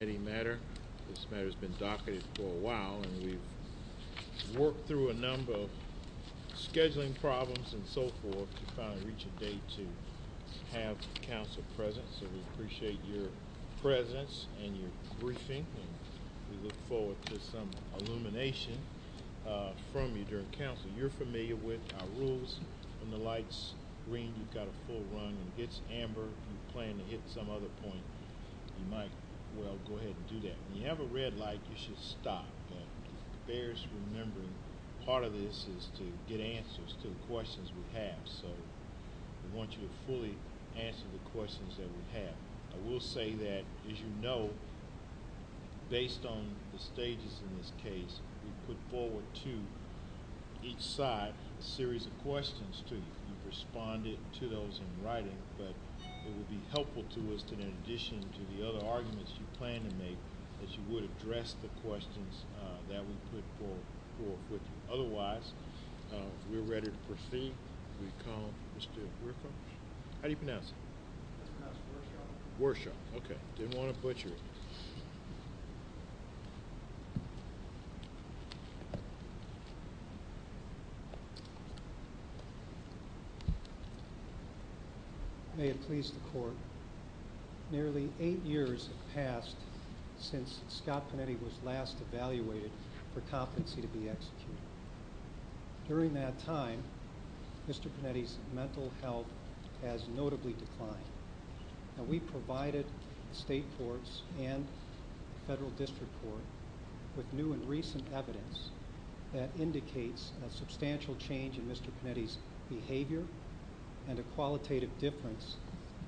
This matter has been documented for a while and we've worked through a number of scheduling problems and so forth to finally reach a date to have the council present. So we appreciate your presence and your briefing and we look forward to some illumination from you during council. If you're familiar with our rules and the lights green, you've got a full run. If it's amber and you plan to hit some other point, you might as well go ahead and do that. If you have a red light, you should stop. It bears remembering part of this is to get answers to the questions we have. So we want you to fully answer the questions that we have. I will say that, as you know, based on the stages in this case, we put forward to each side a series of questions to respond to those in writing. But it would be helpful to us in addition to the other arguments you plan to make that you would address the questions that we put forward. Otherwise, we're ready to proceed. We call Mr. Griffith. How do you pronounce it? Worship. Okay. Didn't want to butcher you. May it please the court. Nearly eight years have passed since Scott Panetti was last evaluated for competency to be executed. During that time, Mr. Panetti's mental health has notably declined. We provided state courts and federal district court with new and recent evidence that indicates a substantial change in Mr. Panetti's behavior and a qualitative difference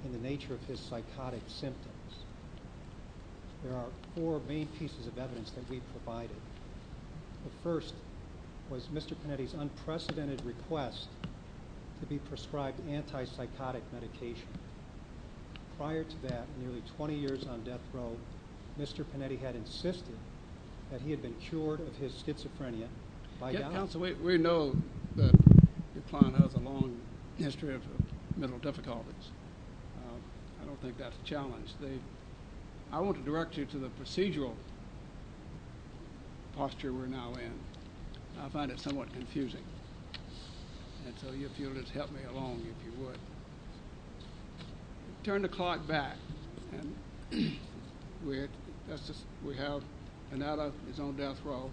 in the nature of his psychotic symptoms. There are four main pieces of evidence that we provided. The first was Mr. Panetti's unprecedented request to be prescribed anti-psychotic medication. Prior to that, nearly 20 years on death row, Mr. Panetti had insisted that he had been cured of his schizophrenia. Counsel, we know that your client has a long history of mental difficulties. I don't think that's a challenge. I want to direct you to the procedural posture we're now in. I find it somewhat confusing. If you'll just help me along, if you would. Turn the clock back. We have Panetti on his own death row.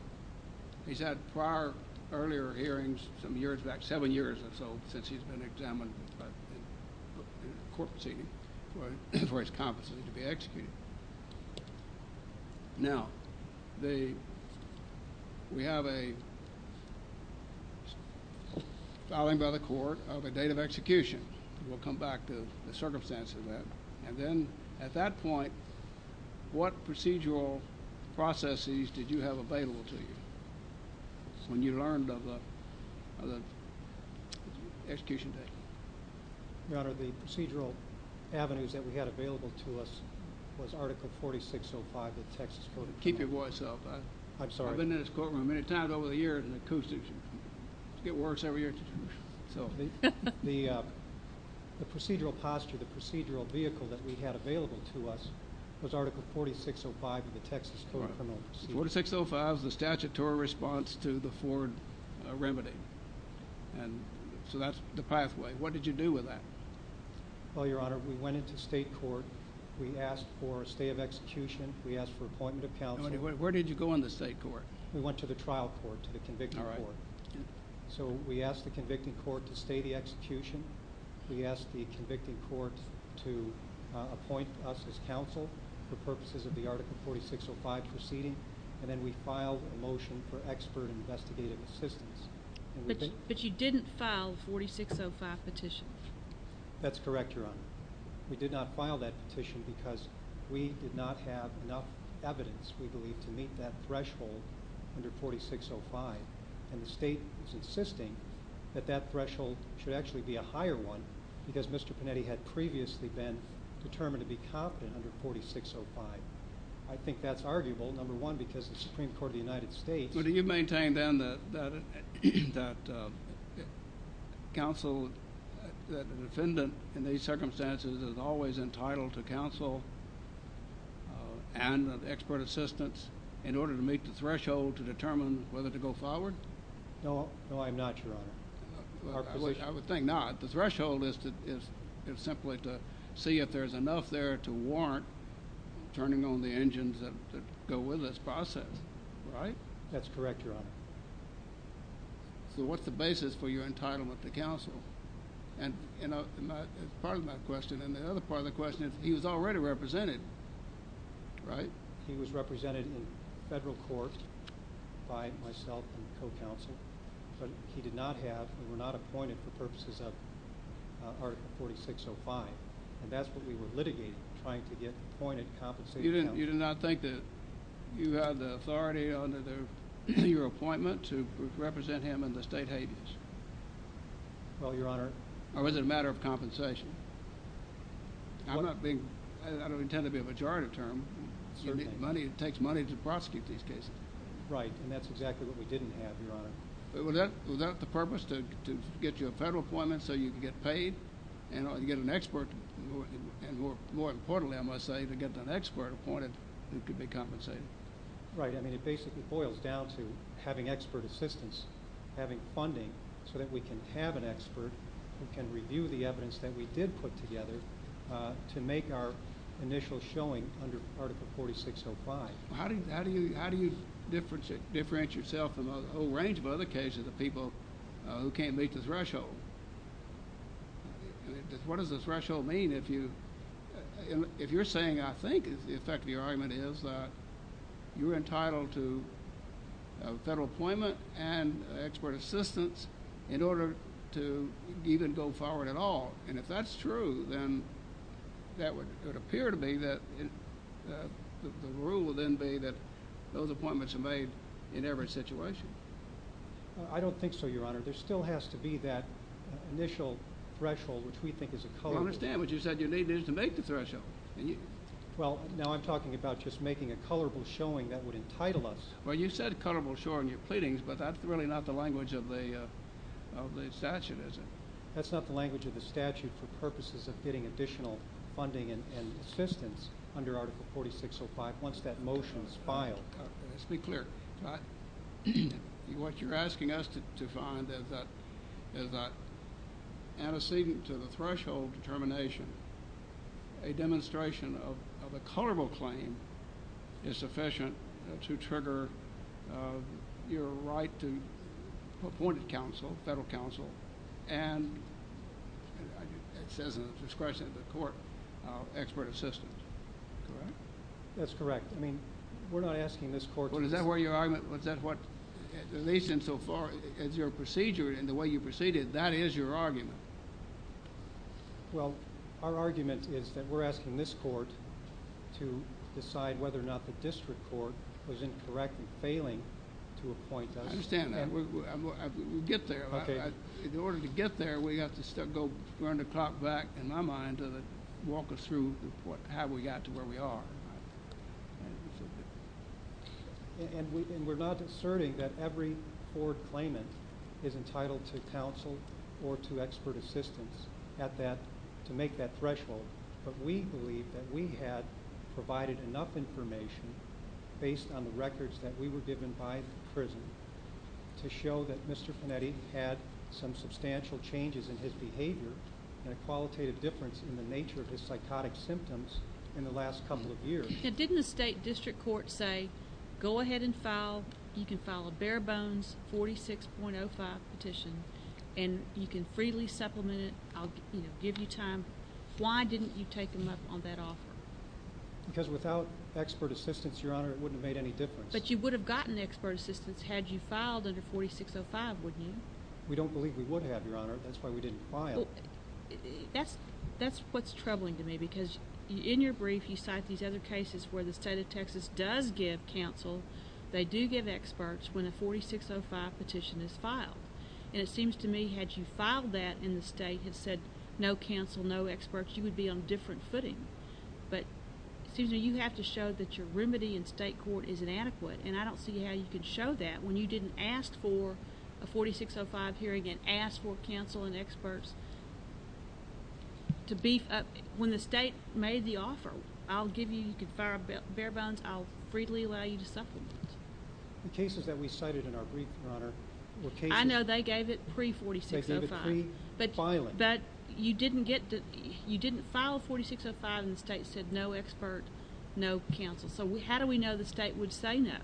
He's had prior, earlier hearings, about seven years or so since he's been examined for his competency to be executed. Now, we have a filing by the court of a date of execution. We'll come back to the circumstances of that. At that point, what procedural processes did you have available to you when you learned of the execution date? Your Honor, the procedural avenues that we had available to us was Article 4605 of the Texas Code of Conduct. Keep your voice up. I've been in this courtroom many times over the years and the acoustics get worse every year. The procedural posture, the procedural vehicle that we had available to us was Article 4605 of the Texas Code of Conduct. 4605 is the statutory response to the Ford remedy. So that's the pathway. What did you do with that? Well, Your Honor, we went into state court. We asked for a stay of execution. We asked for appointment of counsel. Where did you go in the state court? We went to the trial court, to the conviction court. So we asked the conviction court to stay the execution. We asked the conviction court to appoint us as counsel for purposes of the Article 4605 proceeding. And then we filed a motion for expert investigative assistance. But you didn't file the 4605 petition? That's correct, Your Honor. We did not file that petition because we did not have enough evidence, we believe, to meet that threshold under 4605. And the state was insisting that that threshold should actually be a higher one because Mr. Panetti had previously been determined to be confident under 4605. I think that's arguable, number one, because it's the Supreme Court of the United States. Well, do you maintain then that counsel, that the defendant in these circumstances, is always entitled to counsel and expert assistance in order to meet the threshold to determine whether to go forward? No, I'm not, Your Honor. I would think not. The threshold is simply to see if there's enough there to warrant turning on the engines that go with this process, right? That's correct, Your Honor. Well, what's the basis for your entitlement to counsel? And part of my question, and the other part of the question, is he was already represented, right? He was represented in federal courts by myself and the co-counsel, but he did not have, we were not appointed for purposes of Article 4605. And that's what we were litigating, trying to get appointed, compensated counsel. You did not think that you had the authority under your appointment to represent him in the state agents? No, Your Honor. Or was it a matter of compensation? I don't intend to be a majority term. It takes money to prosecute these cases. Right, and that's exactly what we didn't have, Your Honor. Was that the purpose, to get you a federal appointment so you could get paid? And you get an expert, and more importantly, I must say, to get an expert appointed, it could be compensated. Right, I mean, it basically boils down to having expert assistance, having funding, so that we can have an expert who can review the evidence that we did put together to make our initial showing under Article 4605. How do you differentiate yourself from a whole range of other cases of people who can't meet the threshold? What does the threshold mean if you're saying, I think, the effect of your argument is that you're entitled to federal appointment and expert assistance in order to even go forward at all? And if that's true, then it would appear to me that the rule would then be that those appointments are made in every situation. I don't think so, Your Honor. There still has to be that initial threshold, which we think is a colorable… Well, understand what you said. You need this to make the threshold. Well, now I'm talking about just making a colorable showing that would entitle us. Well, you said a colorable show in your pleadings, but that's really not the language of the statute, is it? That's not the language of the statute for purposes of getting additional funding and assistance under Article 4605 once that motion is filed. Let's be clear. What you're asking us to find is that antecedent to the threshold determination, a demonstration of a colorable claim is sufficient to trigger your right to appointed counsel, federal counsel, and it says in the discretion of the court, expert assistance, correct? That's correct. I mean, we're not asking this court to… Well, is that why your argument, was that what relates in so far as your procedure and the way you proceeded? That is your argument. Well, our argument is that we're asking this court to decide whether or not the district court was incorrect in failing to appoint us. I understand that. We'll get there. In order to get there, we have to go run the clock back, in my mind, to walk us through how we got to where we are. And we're not asserting that every court claimant is entitled to counsel or to expert assistance to make that threshold, but we believe that we had provided enough information, based on the records that we were given by the prison, to show that Mr. Panetti had some substantial changes in his behavior and a qualitative difference in the nature of his psychotic symptoms in the last couple of years. Didn't the state district court say, go ahead and file, you can file a bare-bones 46.05 petition, and you can freely supplement it, I'll give you time? Why didn't you take them up on that offer? Because without expert assistance, Your Honor, it wouldn't have made any difference. But you would have gotten expert assistance had you filed under 46.05, wouldn't you? We don't believe we would have, Your Honor. That's why we didn't file it. That's what's troubling to me, because in your brief, you cite these other cases where the state of Texas does give counsel, they do give experts, when a 46.05 petition is filed. And it seems to me, had you filed that in the state and said, no counsel, no experts, you would be on a different footing. But it seems that you have to show that your remedy in state court is inadequate, and I don't see how you could show that when you didn't ask for a 46.05 hearing, and ask for counsel and experts to beef up, when the state made the offer, I'll give you, you can file a bare-bones, I'll freely allow you to supplement. The cases that we cited in our brief, Your Honor, were cases... I know they gave it pre-46.05. They gave it pre-filing. But you didn't get to, you didn't file a 46.05 and the state said, no experts, no counsel. So how do we know the state would say no?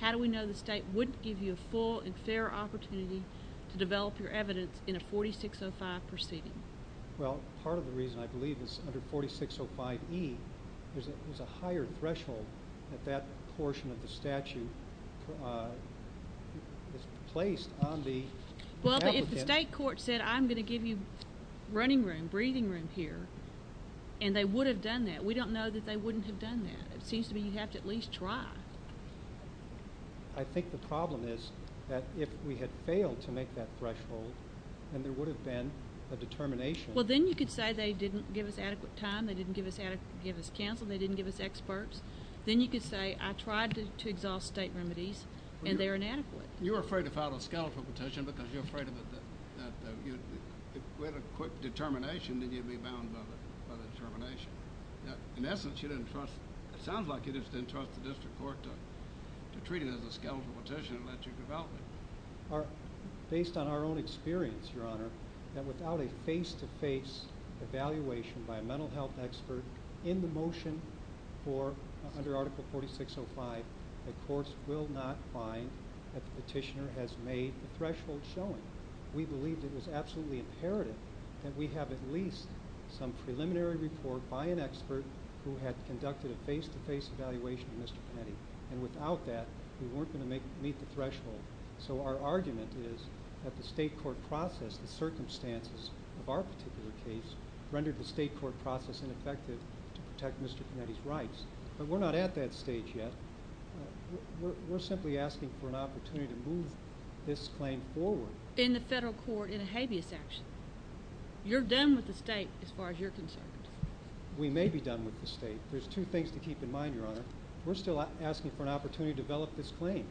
How do we know the state wouldn't give you a full and fair opportunity to develop your evidence in a 46.05 proceeding? Well, part of the reason I believe it's under 46.05e is that there's a higher threshold at that portion of the statute placed on the... Well, if the state court said, I'm going to give you running room, breathing room here, and they would have done that, we don't know that they wouldn't have done that. It seems to me you have to at least try. I think the problem is that if we had failed to make that threshold, then there would have been a determination. Well, then you could say they didn't give us adequate time, they didn't give us counsel, they didn't give us experts. Then you could say, I tried to exhaust state remedies, and they're inadequate. You were afraid to file a scalpel petition because you're afraid that if you had a quick determination, then you'd be bound by the determination. In essence, you didn't trust, it sounds like you didn't trust the district court to treat it as a scalpel petition and let you develop it. Based on our own experience, your honor, that without a face-to-face evaluation by a mental health expert in the motion for, under article 46.05, the courts will not find that the petitioner has made the threshold shown. We believe it is absolutely imperative that we have at least some preliminary report by an expert who had conducted a face-to-face evaluation of Mr. Frenny. Without that, we weren't going to meet the threshold. Our argument is that the state court process and circumstances of our particular case rendered the state court process ineffective to protect Mr. Frenny's rights. We're not at that stage yet. We're simply asking for an opportunity to move this claim forward. In the federal court, in a habeas action. You're done with the state as far as you're concerned. We may be done with the state. There's two things to keep in mind, your honor. We're still asking for an opportunity to develop this claim.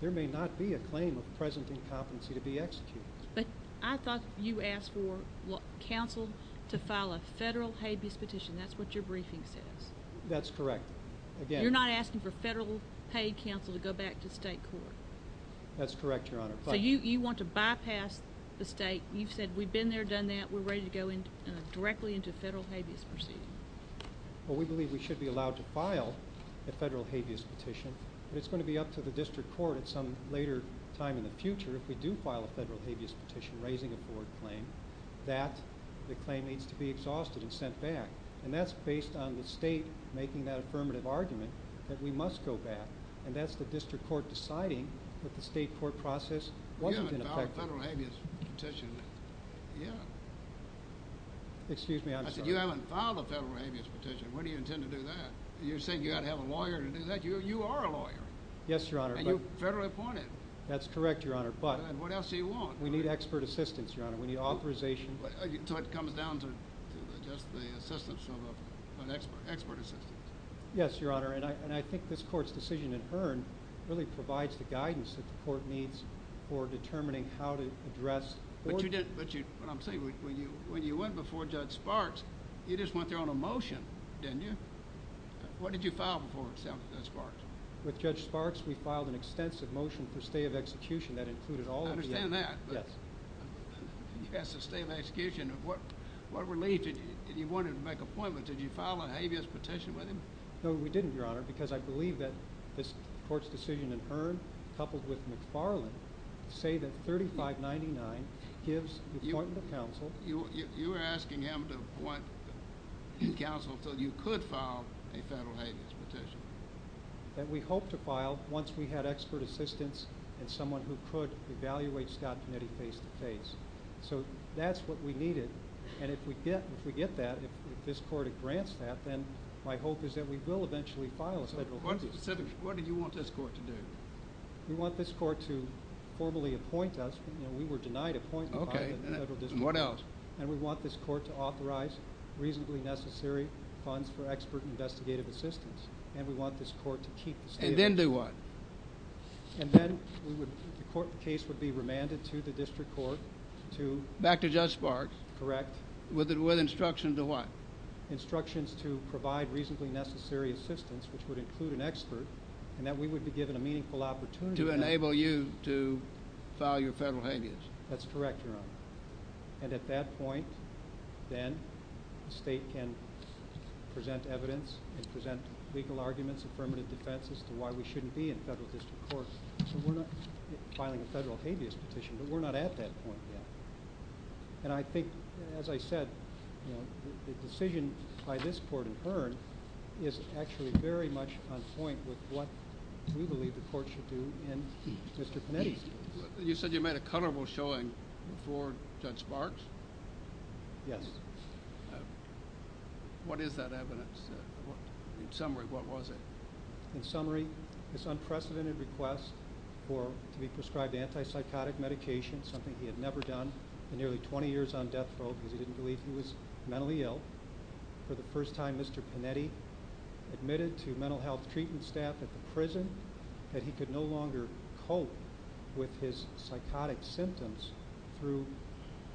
There may not be a claim of present incompetency to be executed. But I thought you asked for counsel to file a federal habeas petition. That's what your briefing said. That's correct. You're not asking for federal paid counsel to go back to state court. That's correct, your honor. You want to bypass the state. You said we've been there, done that. We're ready to go directly into federal habeas proceedings. Well, we believe we should be allowed to file a federal habeas petition. It's going to be up to the district court at some later time in the future. If we do file a federal habeas petition raising a foreign claim, that claim needs to be exhausted and sent back. And that's based on the state making that affirmative argument that we must go back. And that's the district court deciding that the state court process wasn't in effect. You haven't filed a federal habeas petition yet. Excuse me, I'm sorry. You haven't filed a federal habeas petition. When do you intend to do that? You said you had to have a lawyer to do that. You are a lawyer. Yes, your honor. And you're federally appointed. That's correct, your honor. But? What else do you want? We need expert assistance, your honor. We need authorization. So it comes down to just the assistance from an expert assistant. Yes, your honor. And I think this court's decision in turn really provides the guidance that the court needs for determining how to address. What I'm saying is when you went before Judge Sparks, you just went there on a motion, didn't you? What did you file before Judge Sparks? With Judge Sparks, we filed an extensive motion for stay of execution that included all of the. I understand that. Yes. He has to stay on execution. What relief did you want him to make a point with? Did you file a habeas petition with him? No, we didn't, your honor, because I believe that this court's decision in turn, coupled with McFarland, say that 3599 gives the appointment of counsel. You're asking him to appoint counsel until you could file a federal habeas petition. And we hope to file once we had expert assistance and someone who could evaluate Scott's committee face-to-face. So that's what we needed. And if we get that, if this court grants that, then my hope is that we will eventually file a federal habeas petition. What did you want this court to do? We want this court to formally appoint us. We were denied appointment. Okay. And we want this court to authorize reasonably necessary funds for expert investigative assistance. And we want this court to keep the state... And then do what? And then the court case would be remanded to the district court to... Back to Judge Sparks. Correct. With instruction to what? Instructions to provide reasonably necessary assistance, which would include an expert, and that we would be given a meaningful opportunity... To enable you to file your federal habeas. That's correct, your honor. And at that point, then, the state can present evidence and present legal arguments, affirmative defense, as to why we shouldn't be in federal district courts. So we're not filing a federal habeas petition, but we're not at that point yet. And I think, as I said, the decision by this court and her is actually very much on point with what we believe the court should do in district committees. You said you made a coverable showing before Judge Sparks? Yes. What is that evidence? In summary, what was it? In summary, this unprecedented request to be prescribed anti-psychotic medication, something he had never done in nearly 20 years on death row because he didn't believe he was mentally ill. For the first time, Mr. Panetti admitted to mental health treatment staff at the prison that he could no longer cope with his psychotic symptoms through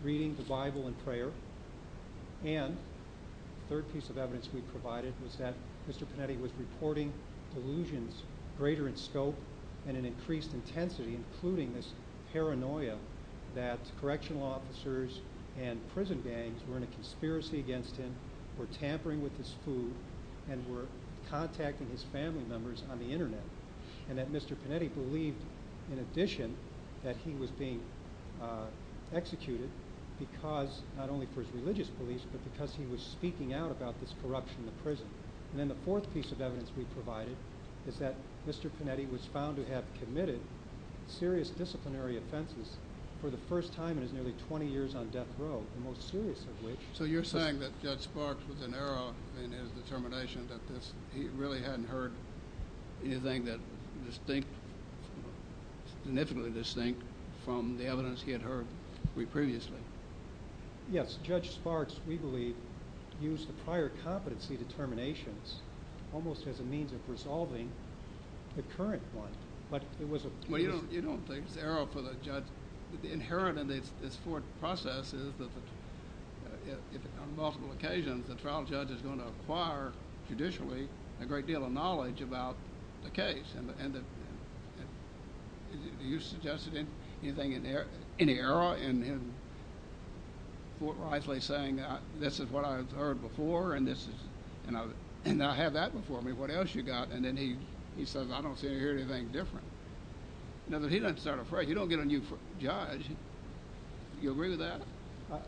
reading the Bible and prayer. And the third piece of evidence we provided was that Mr. Panetti was reporting delusions greater in scope and in increased intensity, including this paranoia that correctional officers and prison gangs were in a conspiracy against him, were tampering with his food, and were contacting his family members on the internet. And that Mr. Panetti believed, in addition, that he was being executed because, not only for his religious beliefs, but because he was speaking out about this corruption at prison. And then the fourth piece of evidence we provided is that Mr. Panetti was found to have committed serious disciplinary offenses for the first time in his nearly 20 years on death row, the most serious of which… So you're saying that Judge Sparks was an error in his determination that he really hadn't heard anything that was significantly distinct from the evidence he had heard previously? Yes. Judge Sparks, we believe, used the prior competency determinations almost as a means of resolving the current one. Well, you don't think the error for the judge inherent in this court process is that, on multiple occasions, the trial judge is going to acquire, judicially, a great deal of knowledge about the case. Are you suggesting anything in error in Fort Risely saying, this is what I've heard before, and I have that before me, what else you got? And then he says, I don't see or hear anything different. He doesn't start a press. You don't get a new judge. Do you agree with that?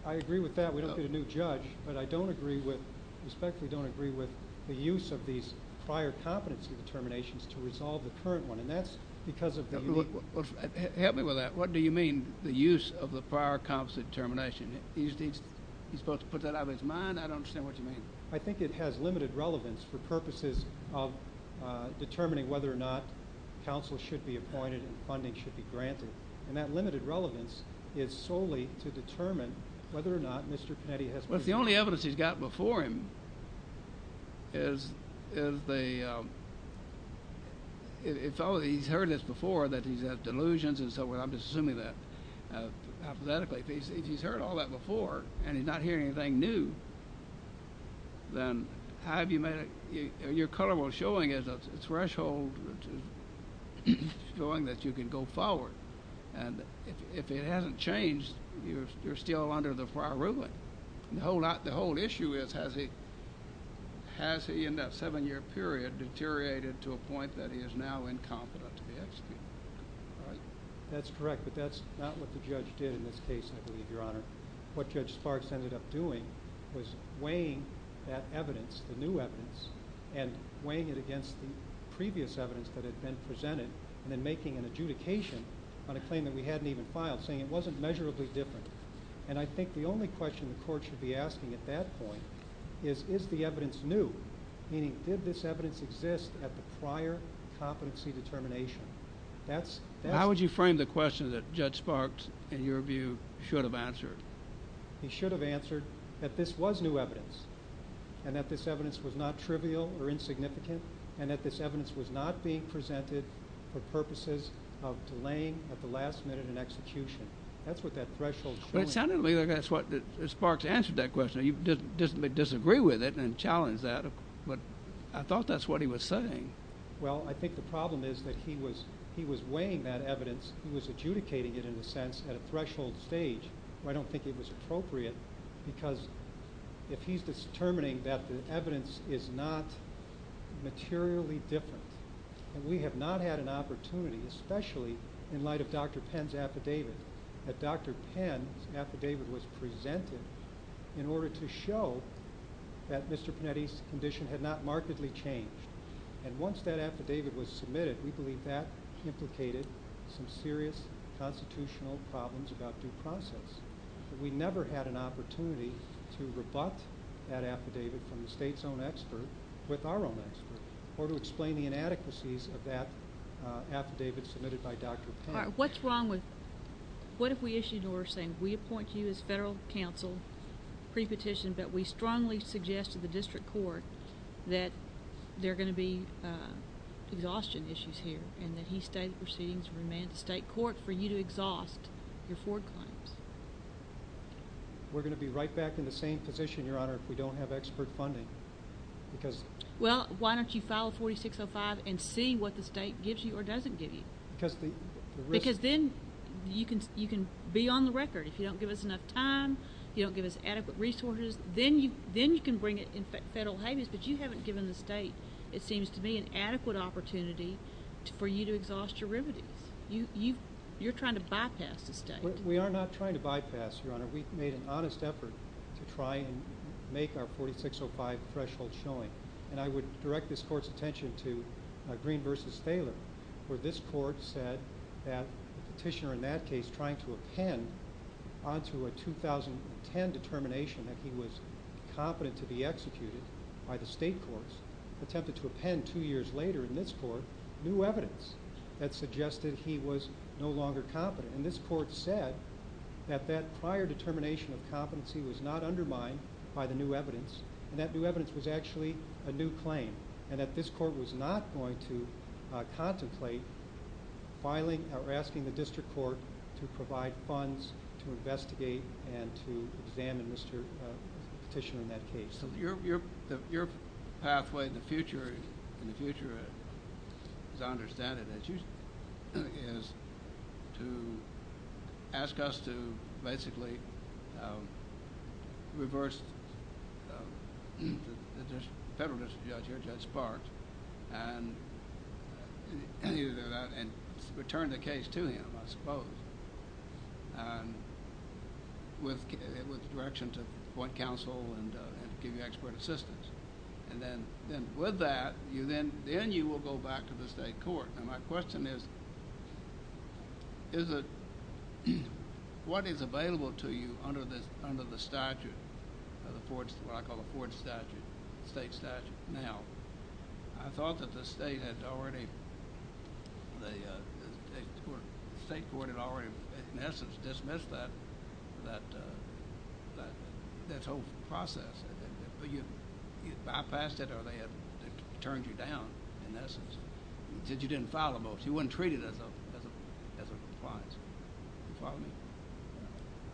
I agree with that. We don't get a new judge. But I don't agree with… I respectfully don't agree with the use of these prior competency determinations to resolve the current one. And that's because of… Help me with that. What do you mean, the use of the prior competency determination? Is he supposed to put that out of his mind? I don't understand what you mean. I think it has limited relevance for purposes of determining whether or not counsel should be appointed and funding should be granted. And that limited relevance is solely to determine whether or not Mr. Penetti has… Your color was showing as a threshold showing that you can go forward. And if it hasn't changed, you're still under the prior ruling. The whole issue is, has he, in that seven-year period, deteriorated to a point that he is now incompetent? That's correct. But that's not what the judge did in this case, I believe, Your Honor. What Judge Sparks ended up doing was weighing that evidence, the new evidence, and weighing it against the previous evidence that had been presented and then making an adjudication on a claim that we hadn't even filed, saying it wasn't measurably different. And I think the only question the court should be asking at that point is, is the evidence new? Meaning, did this evidence exist at the prior competency determination? That's… How would you frame the question that Judge Sparks, in your view, should have answered? He should have answered that this was new evidence, and that this evidence was not trivial or insignificant, and that this evidence was not being presented for purposes of delaying at the last minute an execution. That's what that threshold… Well, it sounded to me like that's what – that Sparks answered that question. He didn't disagree with it and challenged that, but I thought that's what he was saying. Well, I think the problem is that he was weighing that evidence, he was adjudicating it, in a sense, at a threshold stage where I don't think it was appropriate because if he's determining that the evidence is not materially different, and we have not had an opportunity, especially in light of Dr. Penn's affidavit, that Dr. Penn's affidavit was presented in order to show that Mr. Panetti's condition had not markedly changed. And once that affidavit was submitted, we believe that implicated some serious constitutional problems about due process. We never had an opportunity to rebut that affidavit from the state's own expert with our own expert, or to explain the inadequacies of that affidavit submitted by Dr. Penn. What's wrong with – what if we issued an order saying we appoint you as federal counsel, pre-petition, but we strongly suggest to the district court that there are going to be exhaustion issues here, and that he's going to proceed to remand the state court for you to exhaust your four claims? We're going to be right back in the same position, Your Honor, if we don't have expert funding. Well, why don't you file 4605 and see what the state gives you or doesn't give you? Because then you can be on the record. If you don't give us enough time, you don't give us adequate resources, then you can bring it in federal habits. But you haven't given the state, it seems to me, an adequate opportunity for you to exhaust your remedies. You're trying to bypass the state. We are not trying to bypass, Your Honor. We've made an honest effort to try and make our 4605 threshold showing. And I would direct this court's attention to Green v. Phelan, where this court said that the petitioner in that case trying to append onto a 2010 determination that he was competent to be executed by the state courts attempted to append two years later in this court new evidence that suggested he was no longer competent. And this court said that that prior determination of competency was not undermined by the new evidence. And that new evidence was actually a new claim. And that this court was not going to contemplate filing or asking the district court to provide funds to investigate and to examine Mr. Petitioner in that case. Your pathway in the future, as I understand it, is to ask us to basically reverse the federalist judge at its part and return the case to him, I suppose. With direction to the court counsel and give you expert assistance. And then with that, then you will go back to the state court. And my question is, what is available to you under the statute, what I call the court statute, the state statute now? I thought that the state had already, the state court had already in essence dismissed that whole process. You bypassed it or they had turned you down in essence. Because you didn't file a motion. It wasn't treated as a fraud.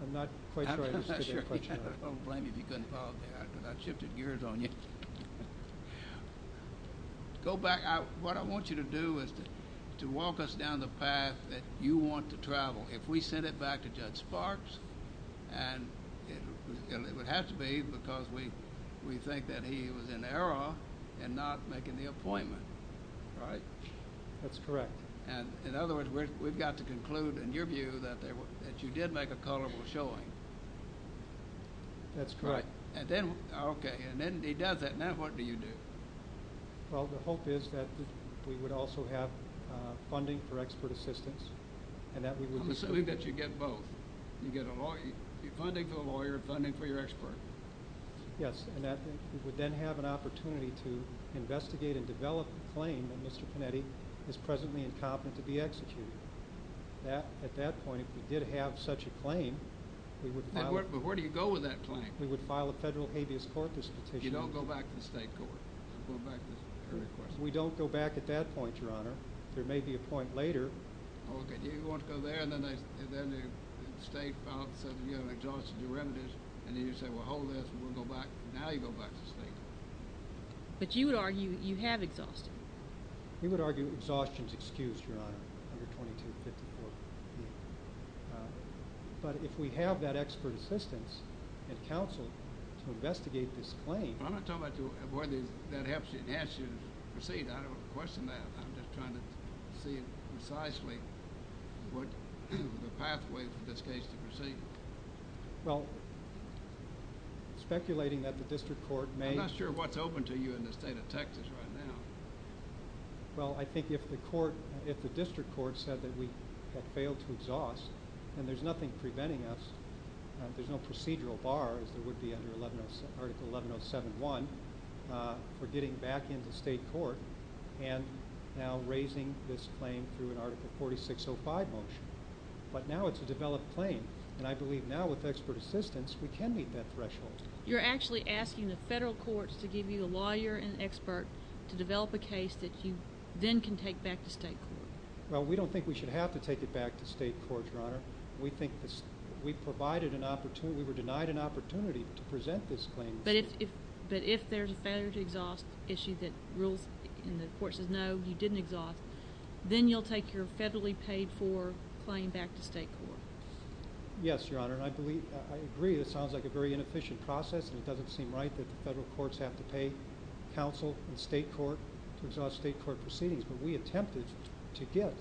I'm not quite sure. I shifted gears on you. Go back, what I want you to do is to walk us down the path that you want to travel. If we send it back to Judge Sparks, and it would have to be because we think that he was in error in not making the appointment, right? That's correct. In other words, we've got to conclude in your view that you did make a colorful showing. That's correct. Okay, and then he does that. Now what do you do? Well, the hope is that we would also have funding for expert assistance. I'm assuming that you get both. You get funding for a lawyer and funding for your expert. Yes, and that would then have an opportunity to investigate and develop a claim that Mr. Panetti is presently incompetent to be executed. At that point, if he did have such a claim, he would file a federal habeas corpus. You don't go back to the state court. We don't go back at that point, Your Honor. There may be a point later. Okay, you're going to go there, and then the state says you have an exhaustion to remedy, and then you say, well, hold this. We're going to go back. Now you go back to the state. But you would argue you have exhaustion. We would argue exhaustion is excused, Your Honor. But if we have that expert assistance and counseling to investigate this claim. I'm not talking about whether that helps you. It has to proceed. I don't question that. I'm just trying to see precisely what the pathway for this case to proceed. Well, speculating that the district court may. I'm not sure what's open to you in the state of Texas right now. Well, I think if the court, if the district court said that we have failed to exhaust, then there's nothing preventing us. There's no procedural bar, as there would be under Article 11071, for getting back into state court. And now raising this claim through an Article 4605 motion. But now it's a developed claim. And I believe now with expert assistance, we can meet that threshold. You're actually asking the federal courts to give you the lawyer and expert to develop a case that you then can take back to state court. Well, we don't think we should have to take it back to state court, Your Honor. We think that we've provided an opportunity, we're denied an opportunity to present this claim. But if there's a failure to exhaust issue that the court says, no, you didn't exhaust, then you'll take your federally paid for claim back to state court. Yes, Your Honor. And I agree, it sounds like a very inefficient process. And it doesn't seem right that the federal courts have to pay counsel and state court to exhaust state court proceedings. But we attempted to get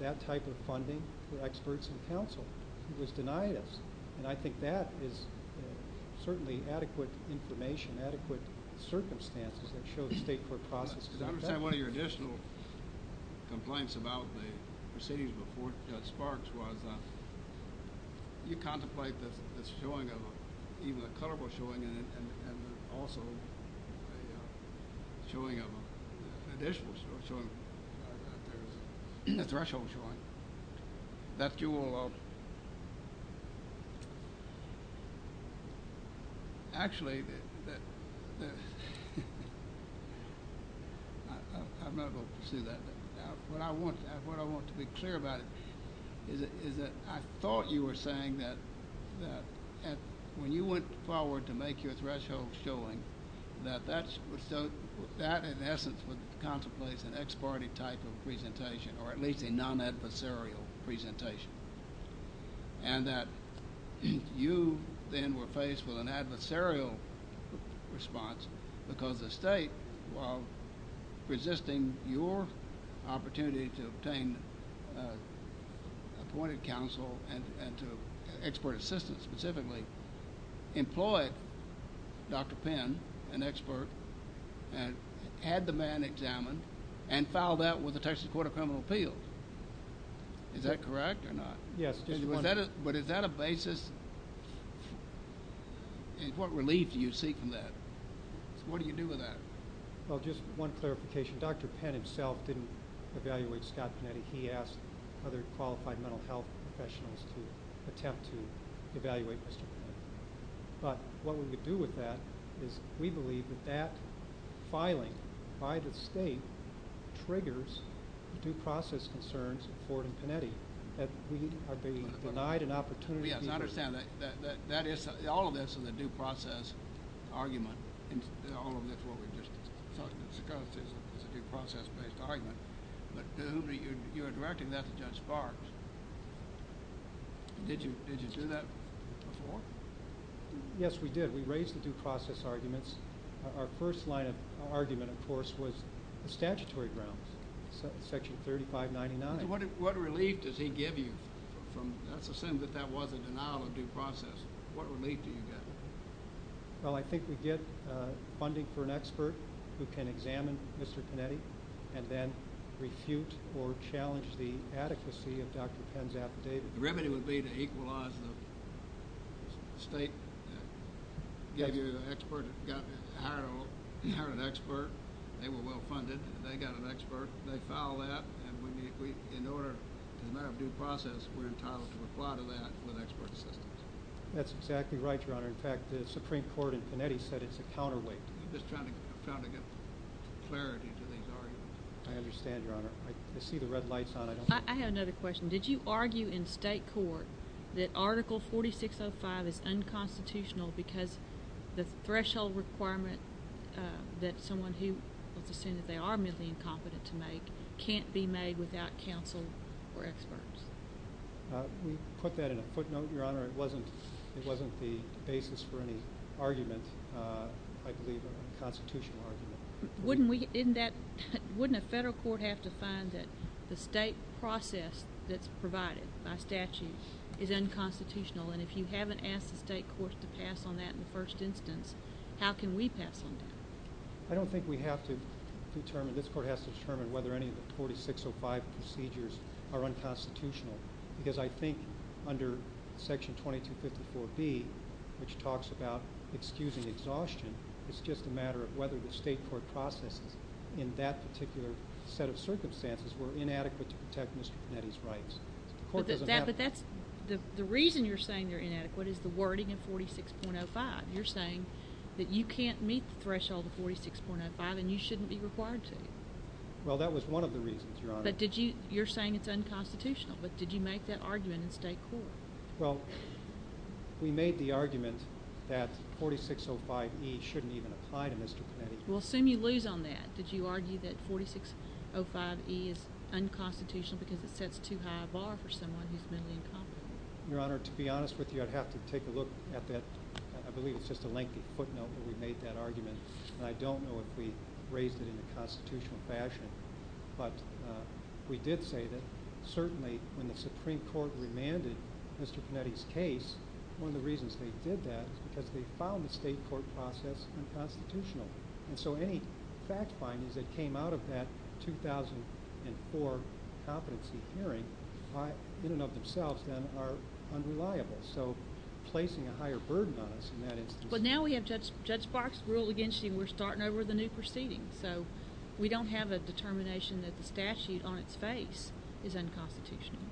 that type of funding through experts and counsel. It was denied us. And I think that is certainly adequate information, adequate circumstances that show the state court process does not pass. I understand one of your additional complaints about the proceedings before it starts was you contemplate that it's showing, even the color was showing, and also showing an additional threshold showing. That you will actually, I'm not going to say that, but what I want to be clear about is that I thought you were saying that when you went forward to make your threshold showing, that in essence would contemplate an ex parte type of presentation, or at least a non-adversarial presentation. And that you then were faced with an adversarial response because the state, while resisting your opportunity to obtain appointed counsel and to expert assistance specifically, employed Dr. Penn, an expert, and had the man examined, and filed that with the Texas Court of Criminal Appeals. Is that correct or not? Yes. But is that a basis? What relief do you see from that? What do you do with that? Well, just one clarification. Dr. Penn himself didn't evaluate staff, and he asked other qualified mental health professionals to attempt to evaluate this. But what we do with that is we believe that that filing by the state triggers due process concerns in Florida and Connecticut. Yes, I understand. All of this is a due process argument. You're directing that to Judge Barnes. Did you do that? Yes, we did. We raised the due process arguments. Our first line of argument, of course, was statutory grounds, Section 3599. What relief does he give you? Let's assume that that was a denial of due process. What relief do you get? Well, I think we get funding for an expert who can examine Mr. Panetti and then refute or challenge the adequacy of Dr. Penn's affidavit. The remedy would be to equalize the state, get you an expert, get you a higher level. You hired an expert. They were well-funded. They got an expert. They filed that. And in order to have a due process, we're entitled to apply to that with expert assistance. That's exactly right, Your Honor. In fact, the Supreme Court in Connecticut said it's a counterweight. I'm just trying to get clarity to these arguments. I understand, Your Honor. I see the red lights on. I have another question. Did you argue in state court that Article 4605 is unconstitutional because the threshold requirement that someone who, let's assume that they are mentally incompetent to make, can't be made without counsel or experts? We put that in a footnote, Your Honor. It wasn't the basis for any argument. I believe it was a constitutional argument. Wouldn't a federal court have to find that the state process that's provided by statute is unconstitutional? And if you haven't asked the state courts to pass on that in the first instance, how can we pass on that? I don't think we have to determine, this court has to determine whether any of the 4605 procedures are unconstitutional because I think under Section 2254B, which talks about excusing exhaustion, it's just a matter of whether the state court process in that particular set of circumstances were inadequate to protect Mr. Panetti's rights. The reason you're saying they're inadequate is the wording in 46.05. You're saying that you can't meet the threshold of 46.05 and you shouldn't be required to. Well, that was one of the reasons, Your Honor. But you're saying it's unconstitutional, but did you make that argument in the state court? Well, we made the argument that 4605E shouldn't even apply to Mr. Panetti. Well, assume you lose on that. Did you argue that 4605E is unconstitutional because it sets too high a bar for someone who's been in conflict? Your Honor, to be honest with you, I'd have to take a look at that. I believe it's just a lengthy footnote that we made that argument, and I don't know if we raised it in a constitutional fashion, but we did say that certainly when the Supreme Court remanded Mr. Panetti's case, one of the reasons they did that was because they found the state court process unconstitutional. And so any fact findings that came out of that 2004 competency hearing in and of themselves are unreliable, so placing a higher burden on us in that instance. But now we have Judge Sparks rule against you and we're starting over the new proceedings, so we don't have a determination that the statute on its face is unconstitutional.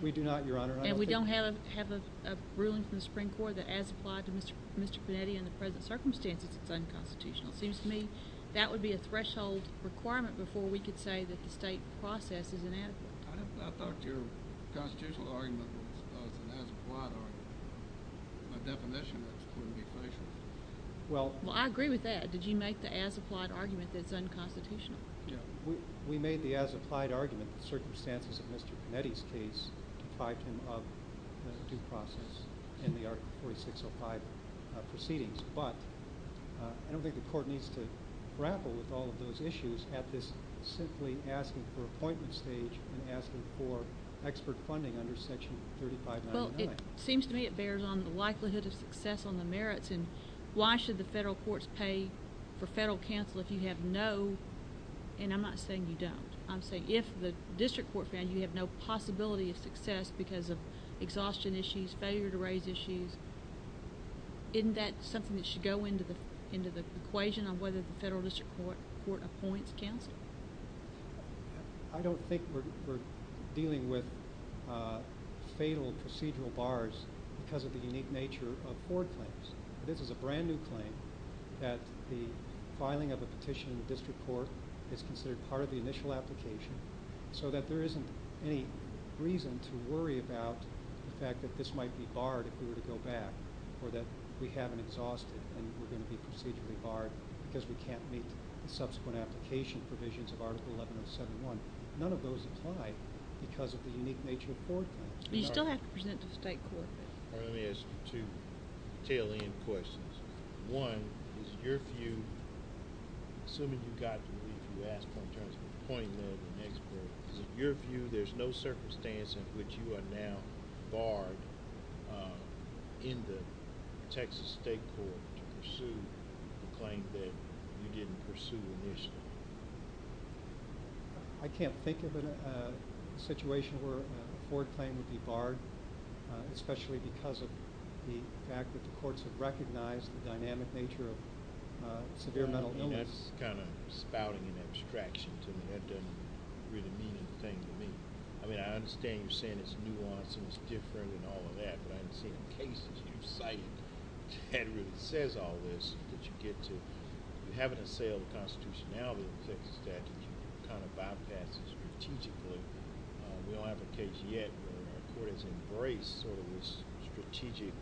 We do not, Your Honor. And we don't have a ruling from the Supreme Court that as applied to Mr. Panetti in the present circumstances is unconstitutional. It seems to me that would be a threshold requirement before we could say that the state process is inadequate. I thought your constitutional argument was about as applied on the definition when you raised it. Well, I agree with that. Did you make the as applied argument that it's unconstitutional? Yes. We made the as applied argument in the circumstances of Mr. Panetti's case to pipe him up to the due process in the Article 46.05 proceedings, but I don't think the court needs to grapple with all of those issues at this simply asking for appointment stage and asking for expert funding under Section 3599. Well, it seems to me it bears on the likelihood of success on the merits and why should the federal courts pay for federal counsel if you have no, and I'm not saying you don't, I'm saying if the district court found you have no possibility of success because of exhaustion issues, failure to raise issues, isn't that something that should go into the equation of whether the federal district court appoints counsel? I don't think we're dealing with fatal procedural bars because of the unique nature of court claims. This is a brand new claim that the filing of a petition in the district court is considered part of the initial application so that there isn't any reason to worry about the fact that this might be barred if we were to go back or that we haven't exhausted and we're going to be procedurally barred because we can't meet subsequent application provisions of Article 1171. None of those apply because of the unique nature of court claims. You still have to present to the state court. I only have two tailing questions. One, is it your view, as soon as we got to where you asked my question, is it your view there's no circumstance in which you are now barred in the Texas state court to pursue a claim that you didn't pursue initially? I can't think of a situation where a court claim would be barred, especially because of the fact that the courts have recognized the dynamic nature of severe mental illness. That's kind of spouting an abstraction to me. That doesn't really mean anything to me. I understand you're saying it's nuanced and it's different and all of that, but I'm saying in case it's your site category that says all this, that you get to having to say all the constitutionality of the Texas statute, you can kind of bypass it strategically. We haven't yet, of course, embraced this strategic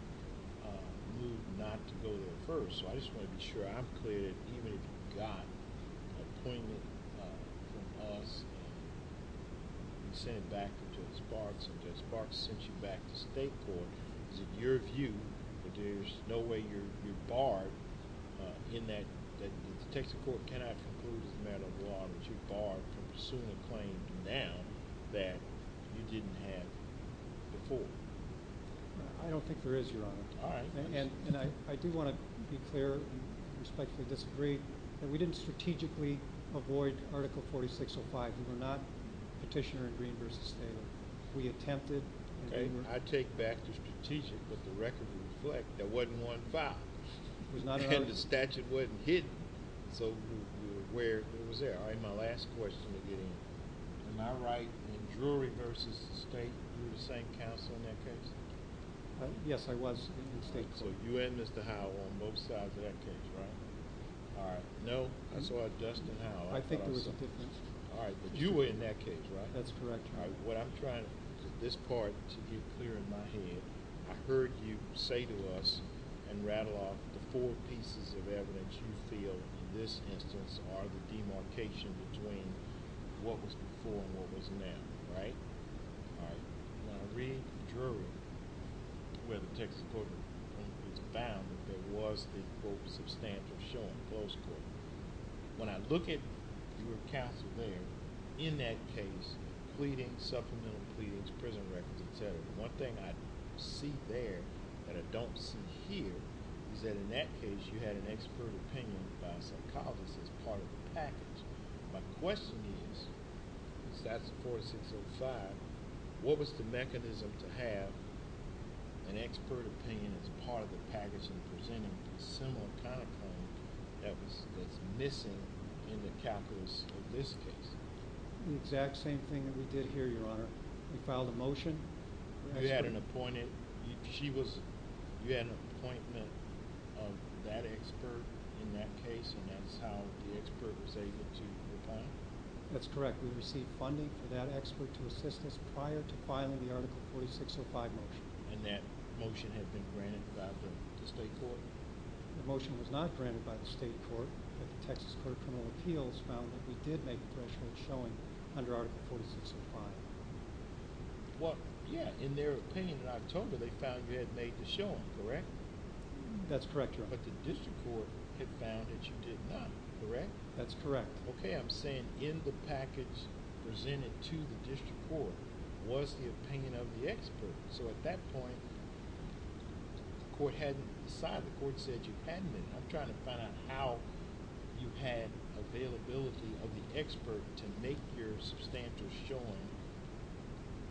move not to go to the first. I just want to make sure I'm clear that if you got a claim that was sent back to the state court, is it your view that there's no way you're barred in that the Texas court cannot conclude without a law that you're barred from pursuing a claim now that you didn't have before? I don't think there is, Your Honor. I do want to be clear and respectfully disagree that we didn't strategically avoid Article 4605. We were not petitioner-agreeers. We attempted. I take back the strategic, but the record reflects there wasn't one filed. The statute wasn't hidden. So we were aware it was there. My last question again, am I right in the jury versus the state? Were you the same counsel in that case? Yes, I was. So you had Mr. Howell on both sides of that case, right? All right. No? I saw Justin Howell. I think it was Justin. All right. You were in that case, right? That's correct, Your Honor. What I'm trying to do is this part to get clear in my head. I heard you say to us and rattle off the four pieces of evidence you feel in this instance are the demarcation between what was before and what was now, right? All right. In my reading of the jury, I'm going to take a look at what was found. It was the quotes that stand for showing falsehood. When I look at your counsel there, in that case, pleading, supplemental pleadings, prison records, et cetera, one thing I see there that I don't see here is that in that case you had an expert opinion by a psychologist as part of the package. My question is, if that's the 4605, what was the mechanism to have an expert opinion as part of the package and presenting a similar kind of thing that was missing in the capitalist statistics? The exact same thing that we did here, Your Honor. We filed a motion. You had an appointment. You had an appointment of that expert in that case and that was how the expert was able to file it. That's correct. We received funding for that expert's assistance prior to filing the article 4605 motion. And that motion had been granted by the state court. The motion was not granted by the state court. The Texas Court of Criminal Appeals found that we did make a correctional showing under article 4605. Well, yeah, in their opinion, I'm told that they found you had made the showing, correct? That's correct, Your Honor. But the district court found that you did not, correct? That's correct. Okay, I'm saying in the package presented to the district court was the opinion of the expert. So at that point, the court said you hadn't. I'm trying to find out how you had availability of the expert to make your substantive showing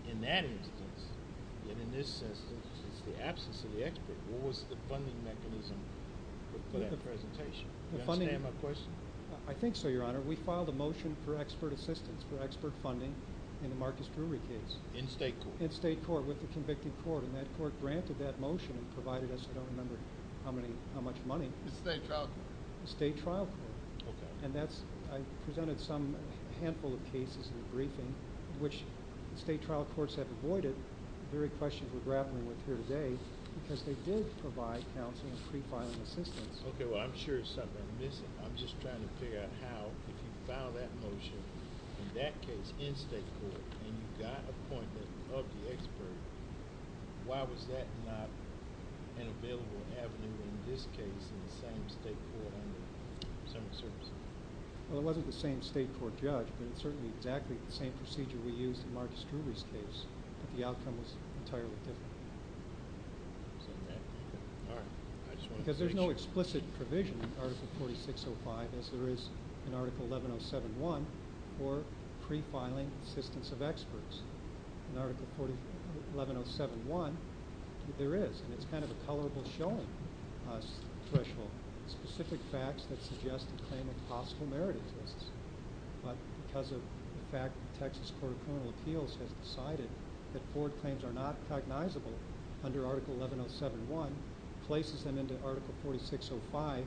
in that instance. And in this instance, in the absence of the expert, what was the funding mechanism for that presentation? Yes, Sam, of course. I think so, Your Honor. We filed a motion for expert assistance, for expert funding, in the Marcus Brewery case. In state court. In state court, with the convicted court. And that court granted that motion, provided us, I don't remember how much money. State trial court. State trial court. Okay. And that's, I presented some, a handful of cases in the briefing, which state trial courts have avoided. The very questions we're grappling with here today, because they did provide counseling and pre-filed assistance. Okay. Well, I'm sure it's something I'm missing. I'm just trying to figure out how you found that motion. In that case, in state court, when you got appointment of the expert, why was that not available or happening in this case, in the same state court? Is that what you're saying? Well, it wasn't the same state court judge, but it's certainly exactly the same procedure we used in the Marcus Brewery case. The outcome is entirely different. All right. Because there's no explicit provision in Article 4605, as there is in Article 11071, for pre-filing assistance of experts. In Article 41071, there is. And it's kind of a colorable showing threshold. Specific facts that suggest a claim of possible merit. But because of the fact that Texas Court of Criminal Appeals has decided that court claims are not recognizable under Article 11071, places them into Article 4605,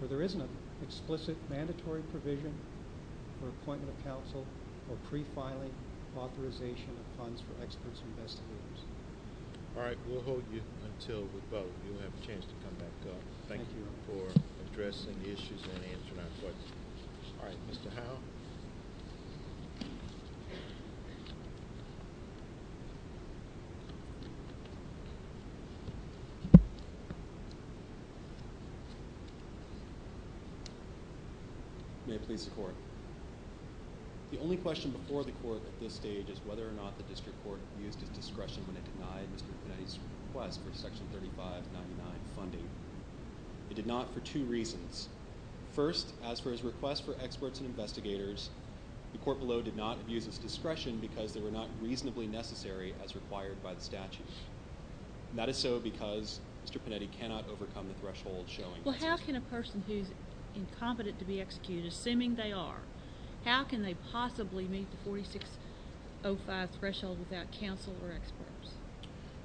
where there isn't an explicit mandatory provision for appointment of counsel for pre-filing authorization of funds for experts and investigators. All right. We'll hold you until the vote. You'll have a chance to come back up. Thank you for addressing the issues and answering my questions. All right. Mr. Allen. May I please report? The only question before the court at this stage is whether or not the district court used the discretion to deny Mr. Brennan's request for Section 3599 funding. He did not for two reasons. First, as per his request for experts and investigators, the court below did not view discretion because they were not reasonably necessary as required by the statutes. That is so because Mr. Panetti cannot overcome the threshold showing. Well, how can a person who is incompetent to be executed, assuming they are, how can they possibly meet the 4605 threshold without counsel or experts?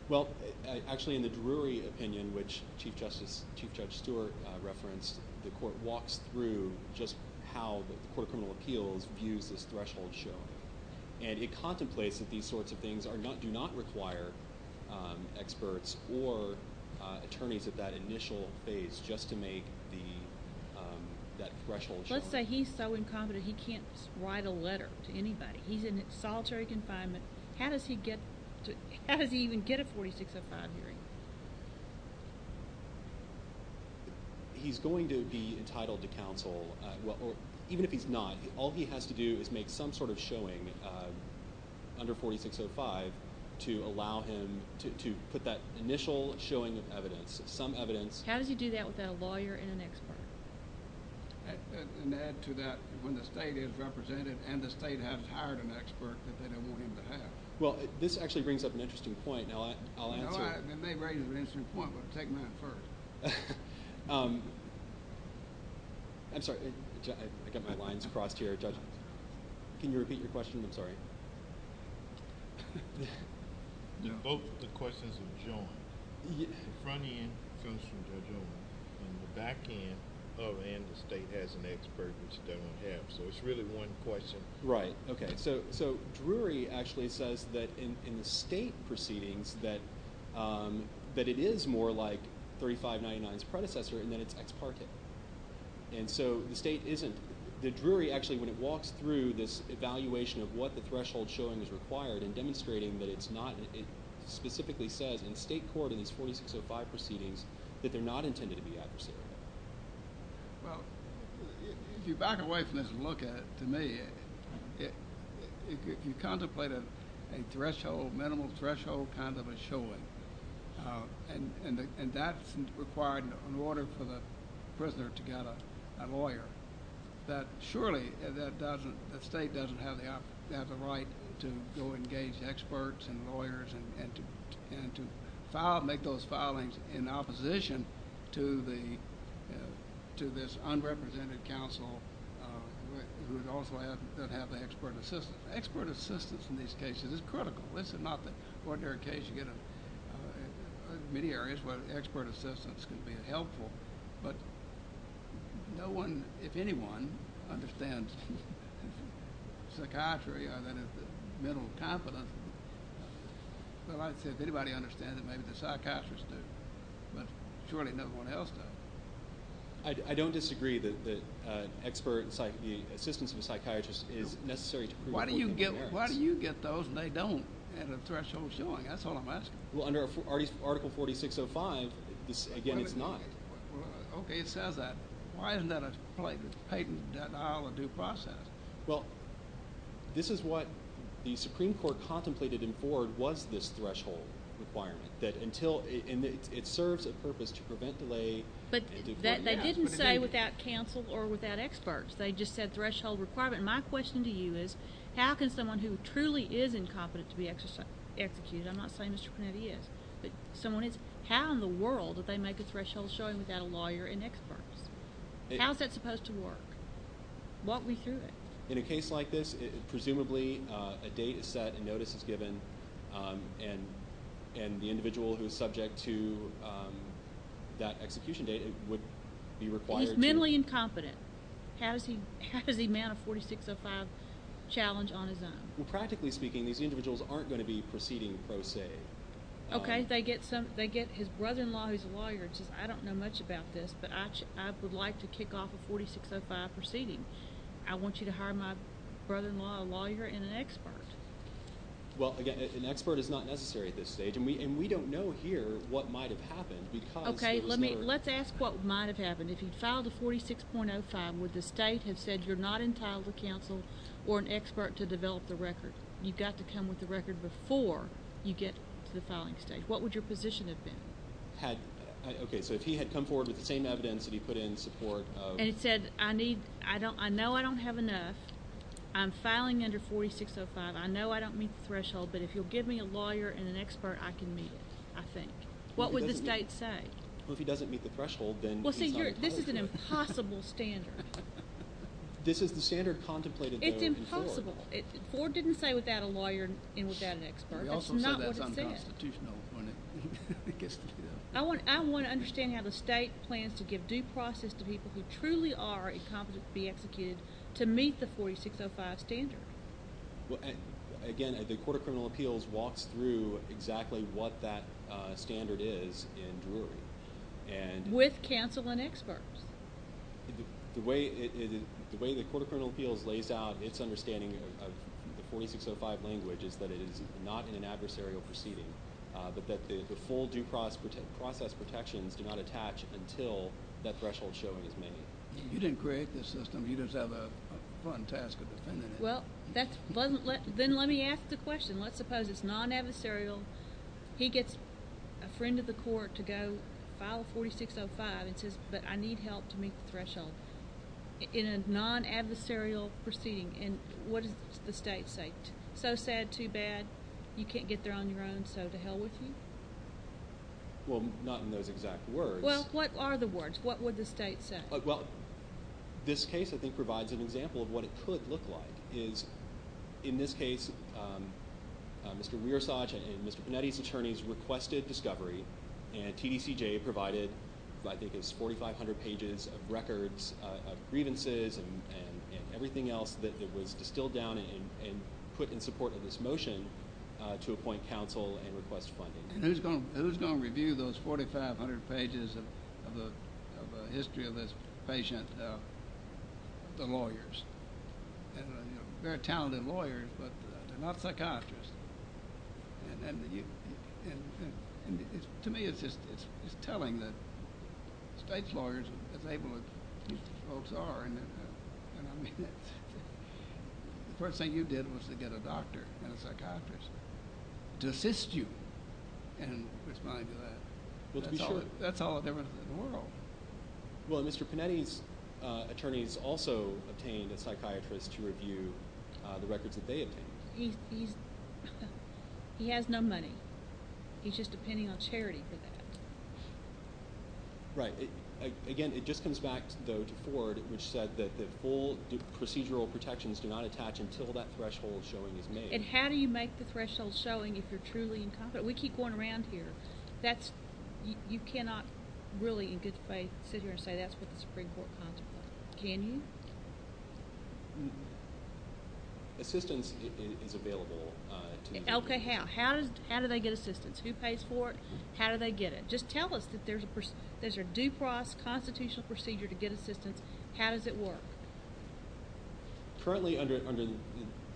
Well, actually, in the Drury opinion, which Chief Judge Stewart referenced, the court walks through just how the Court of Criminal Appeals views this threshold show. And it contemplates that these sorts of things do not require experts or attorneys at that initial phase just to make that threshold show. Let's say he's so incompetent he can't write a letter to anybody. He's in solitary confinement. How does he even get a 4605 grant? He's going to be entitled to counsel, even if he's not. All he has to do is make some sort of showing under 4605 to allow him to put that initial showing of evidence, some evidence. How did you do that without a lawyer and an expert? And to add to that, when the state is represented and the state has hired an expert, then they won't even pay. Well, this actually brings up an interesting point. It may bring up an interesting point, but I'm taking that first. I'm sorry. I got my lines crossed here. Can you repeat your question? I'm sorry. Both of the questions are joined. The front end comes from the government, and the back end, oh, and the state has an expert which they don't have. So it's really one question. Right. Okay. So Drury actually says that in the state proceedings that it is more like 3599's predecessor, and then it's ex parte. And so the state isn't. The Drury actually, when it walks through this evaluation of what the threshold showing is required and demonstrating that it's not, it specifically says in state court in these 4605 proceedings that they're not intended to be adversarial. Well, if you back away from this and look at it, to me, if you contemplate a threshold, minimal threshold kind of a showing, and that's required in order for the prisoner to get a lawyer, that surely the state doesn't have the right to go engage experts and lawyers and to file, make those filings in opposition to the, to this unrepresented counsel who would also have to have expert assistance. Expert assistance in these cases is critical. This is not the ordinary case you get in many areas where expert assistance can be helpful. But no one, if anyone, understands psychiatry, I mean, it's a mental competence. So if anybody understands it, maybe the psychiatrist does. Surely no one else does. I don't disagree that expert assistance in psychiatry is necessary. Why do you get those and they don't in a threshold showing? That's all I'm asking. Well, under Article 4605, again, it's not. Okay, it says that. Why is that a patent? That's not out of due process. Well, this is what the Supreme Court contemplated in Ford was this threshold requirement. That until, and it serves a purpose to prevent delay. But they didn't say without counsel or without experts. They just said threshold requirement. My question to you is, how can someone who truly is incompetent to be executed, and I'm not saying that's what that is, but how in the world did they make the threshold showing without a lawyer and experts? How is that supposed to work? What we hear is. In a case like this, presumably a date is set, a notice is given, and the individual who is subject to that execution date would be required to. If mentally incompetent, has he met a 4605 challenge on his own? Well, practically speaking, these individuals aren't going to be proceeding per se. Okay, they get his brother-in-law who's a lawyer and says, I don't know much about this, but I would like to kick off a 4605 proceeding. I want you to hire my brother-in-law, a lawyer, and an expert. Well, again, an expert is not necessary at this stage, and we don't know here what might have happened. Okay, let's ask what might have happened. If he filed a 4605 where the state has said you're not entitled to counsel or an expert to develop the record, you've got to come with the record before you get to the filing stage, what would your position have been? Okay, so if he had come forward with the same evidence that he put in in support of – And said, I know I don't have enough, I'm filing under 4605, I know I don't meet the threshold, but if you'll give me a lawyer and an expert, I can meet, I think. What would the state say? Well, if he doesn't meet the threshold, then – Well, see, this is an impossible standard. This is the standard contemplated – It's impossible. Ford didn't say without a lawyer and without an expert. That's not what he said. I want to understand how the state plans to give due process to people who truly are incompetent to be executed to meet the 4605 standard. Well, again, the Court of Criminal Appeals walks through exactly what that standard is in Drew. With counsel and experts. The way the Court of Criminal Appeals lays out its understanding of the 4605 language is that it is not an adversarial proceeding, that the full due process protections do not attach until that threshold is shown in this manner. You didn't create this system. You just have a fun task of defending it. Well, then let me ask the question. Let's suppose it's non-adversarial. He gets a friend of the court to go file 4605 and says, but I need help to meet the threshold. In a non-adversarial proceeding, what does the state say? So sad, too bad, you can't get there on your own, so to hell with you? Well, not in those exact words. Well, what are the words? What would the state say? Well, this case, I think, provides an example of what it could look like. In this case, Mr. Rearsage and Mr. Panetti's attorneys requested discovery, and TDCJ provided, I think it was 4,500 pages of records of grievances and everything else that was distilled down and put in support of this motion to appoint counsel and request funding. Who's going to review those 4,500 pages of the history of this patient? The lawyers. They're talented lawyers, but they're not psychiatrists. To me, it's just telling that state's lawyers are able to assist as folks are. The first thing you did was to get a doctor and a psychiatrist to assist you and respond to that. That's all there was to the moral. Well, Mr. Panetti's attorneys also obtained a psychiatrist to review the records of data. He has no money. He's just depending on charity for that. Right. Again, it just comes back to the board, which said that the full procedural protections do not attach until that threshold showing is made. And how do you make the threshold showing if you're truly incompetent? We keep going around here. You cannot really, in good faith, sit here and say that's what the Supreme Court calls it. Can you? Assistance is available. Okay, how? How do they get assistance? Who pays for it? How do they get it? Just tell us if there's a due process, constitutional procedure to get assistance. How does it work? Currently, under the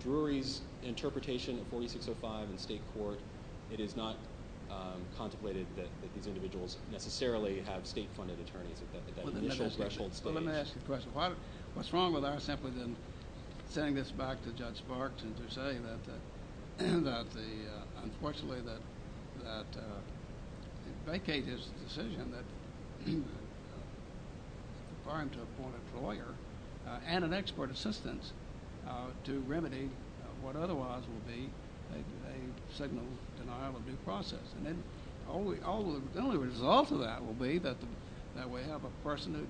jury's interpretation of 4605 in the state court, it is not contemplated that these individuals necessarily have state-funded attorneys. Let me ask you a question. What's wrong with us simply than saying this back to Judge Barks and to say that, unfortunately, that the vacate is a decision that requires an appointed lawyer and an expert assistance to remedy what otherwise would be a signal denial of due process? And then the only result of that will be that we have a person who's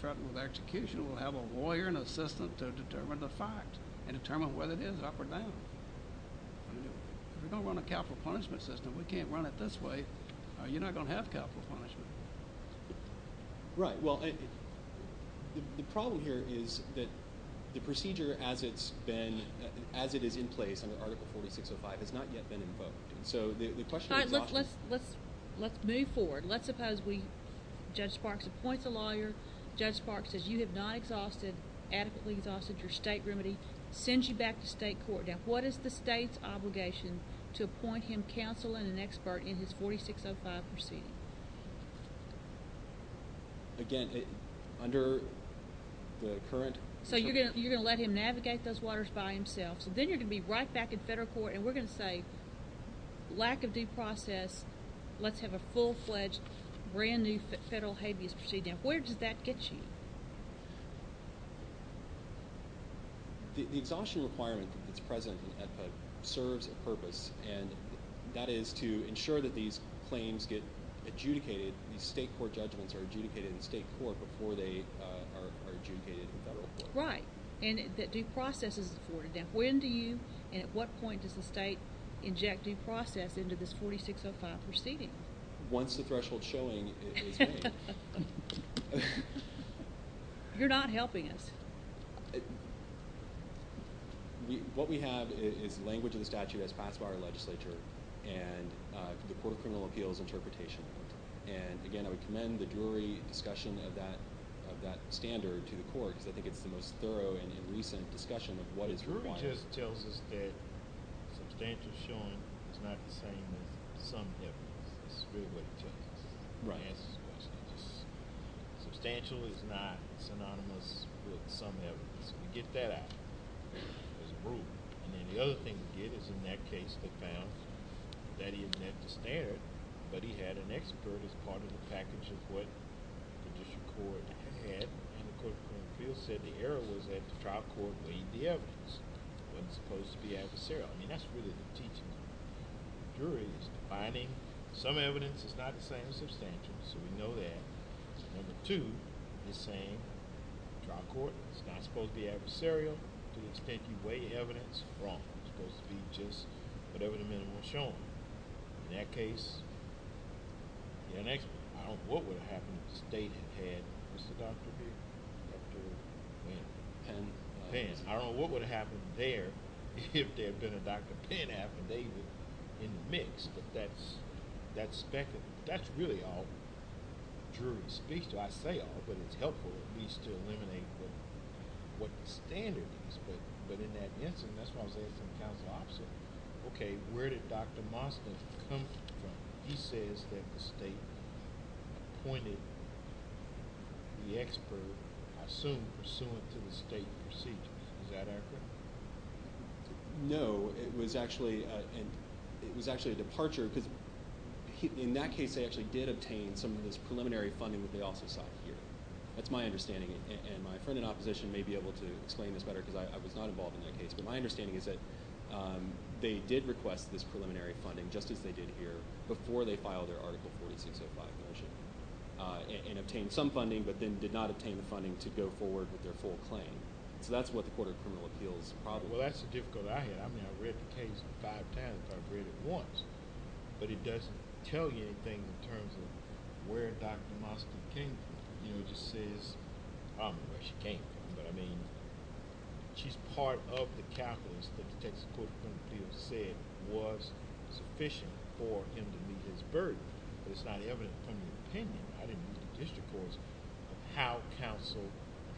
threatened with execution, we'll have a lawyer and assistant to determine the fact and determine whether it is up or down. We don't want a capital punishment system. We can't run it this way. You're not going to have capital punishment. Right. Well, the problem here is that the procedure, as it's been, as it is in place under Article 4605, has not yet been invoked. So the question is not… All right. Let's move forward. Let's suppose Judge Barks appoints a lawyer. Judge Barks says you have not adequately exhausted your state remedy, sends you back to state court. Now, what is the state's obligation to appoint him counsel and an expert in his 4605 procedure? Again, under the current… So you're going to let him navigate those waters by himself, so then you're going to be right back at federal court and we're going to say lack of due process, let's have a full-fledged brand-new federal habeas procedure. Where does that get you? The exhaustion requirement that's present in the ethic serves a purpose, and that is to ensure that these claims get adjudicated, these state court judgments are adjudicated in state court before they are adjudicated in federal court. Right. And that due process is important. Now, when do you and at what point does the state inject due process into this 4605 proceeding? Once the threshold is showing. You're not helping us. What we have is language and statute that's passed by our legislature and the Court of Criminal Appeals interpretation. And, again, I would commend the jury discussion of that standard to the court because I think it's the most thorough and recent discussion of what is required. The jury just tells us that substantial is showing, but it's not the same as some of the evidence. Substantial is not synonymous with some of the evidence. We get that out. The other thing we get is in that case, they found that he had an excess narrative, but he had an expert as part of the package of what the district court had. And the Court of Criminal Appeals said the error was that the trial court weighed the evidence when it's supposed to be adversarial. And that's really what it teaches us. The jury is defining some evidence as not the same as substantial, so we know that. Number two is saying the trial court is not supposed to be adversarial because it's taking weighty evidence wrong. It's supposed to be just whatever the minimum is shown. In that case, I don't know what would have happened if the state had stopped the weight of the evidence. And, again, I don't know what would have happened there if there had been a back-and-forth affidavit in the mix, but that's really all jury discussion. I say all, but it's helpful at least to eliminate what the standard is. But in that instance, I just want to say it comes down to the opposite. Okay, where did Dr. Mastin come from? He says that the state appointed the expert, I assume pursuant to the state procedure. Is that accurate? No, it was actually a departure because in that case, they actually did obtain some of this preliminary funding with the office of the jury. That's my understanding, and my friend in opposition may be able to explain this better because I was not involved in that case. But my understanding is that they did request this preliminary funding, just as they did here, before they filed their Article 4605 motion and obtained some funding, but then did not obtain the funding to go forward with their full claim. So that's what the Court of Criminal Appeals probably wants. Well, that's the difficulty I had. I mean, I read the case back then, and I read it once, but it doesn't tell you anything in terms of where Dr. Mastin came from. I don't know where she came from, but I mean, she's part of the calculus that the Texas Court of Criminal Appeals said was sufficient for individuals' burden. But it's not evident from the opinion. I didn't use the district courts. How counsel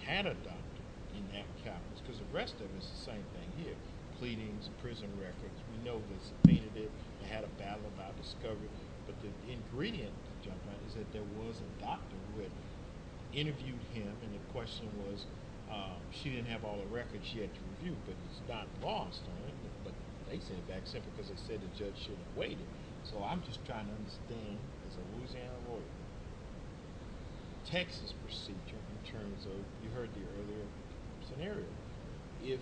can adopt in that calculus, because the rest of it is the same thing here. Pleadings, prison records. We know that it's definitive. They had a battle about discovery. But the ingredient of discovery is that there was a doctor that interviewed him, and the question was she didn't have all the records she had to review, but it's not lost on anybody. They said that's it because they said the judge should have waited. So I'm just trying to understand, as a Louisiana lawyer, the Texas procedure in terms of, you heard here earlier, if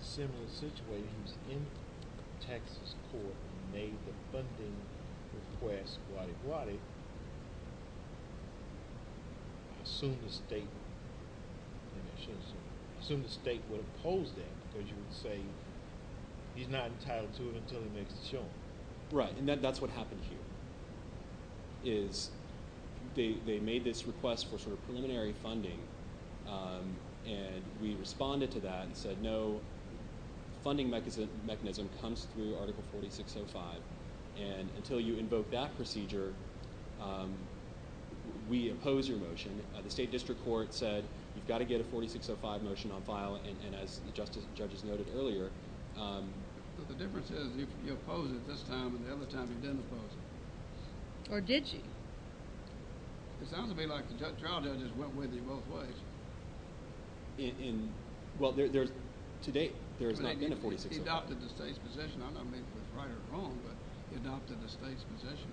similar situations in the Texas court made the funding request like Roddy, assume the state will oppose that because you would say he's not entitled to it until he makes it shown. Right, and that's what happened here. They made this request for sort of preliminary funding, and we responded to that and said no funding mechanism comes through Article 4605. And until you invoke that procedure, we oppose your motion. The state district court said you've got to get a 4605 motion on file, and as the judges noted earlier. But the difference is you opposed it this time and the other time you didn't oppose it. Or did you? It sounds to me like the trial judges went with it both ways. Well, to date there has not been a 4605. He adopted the state's position. I don't know if it's right or wrong, but he adopted the state's position.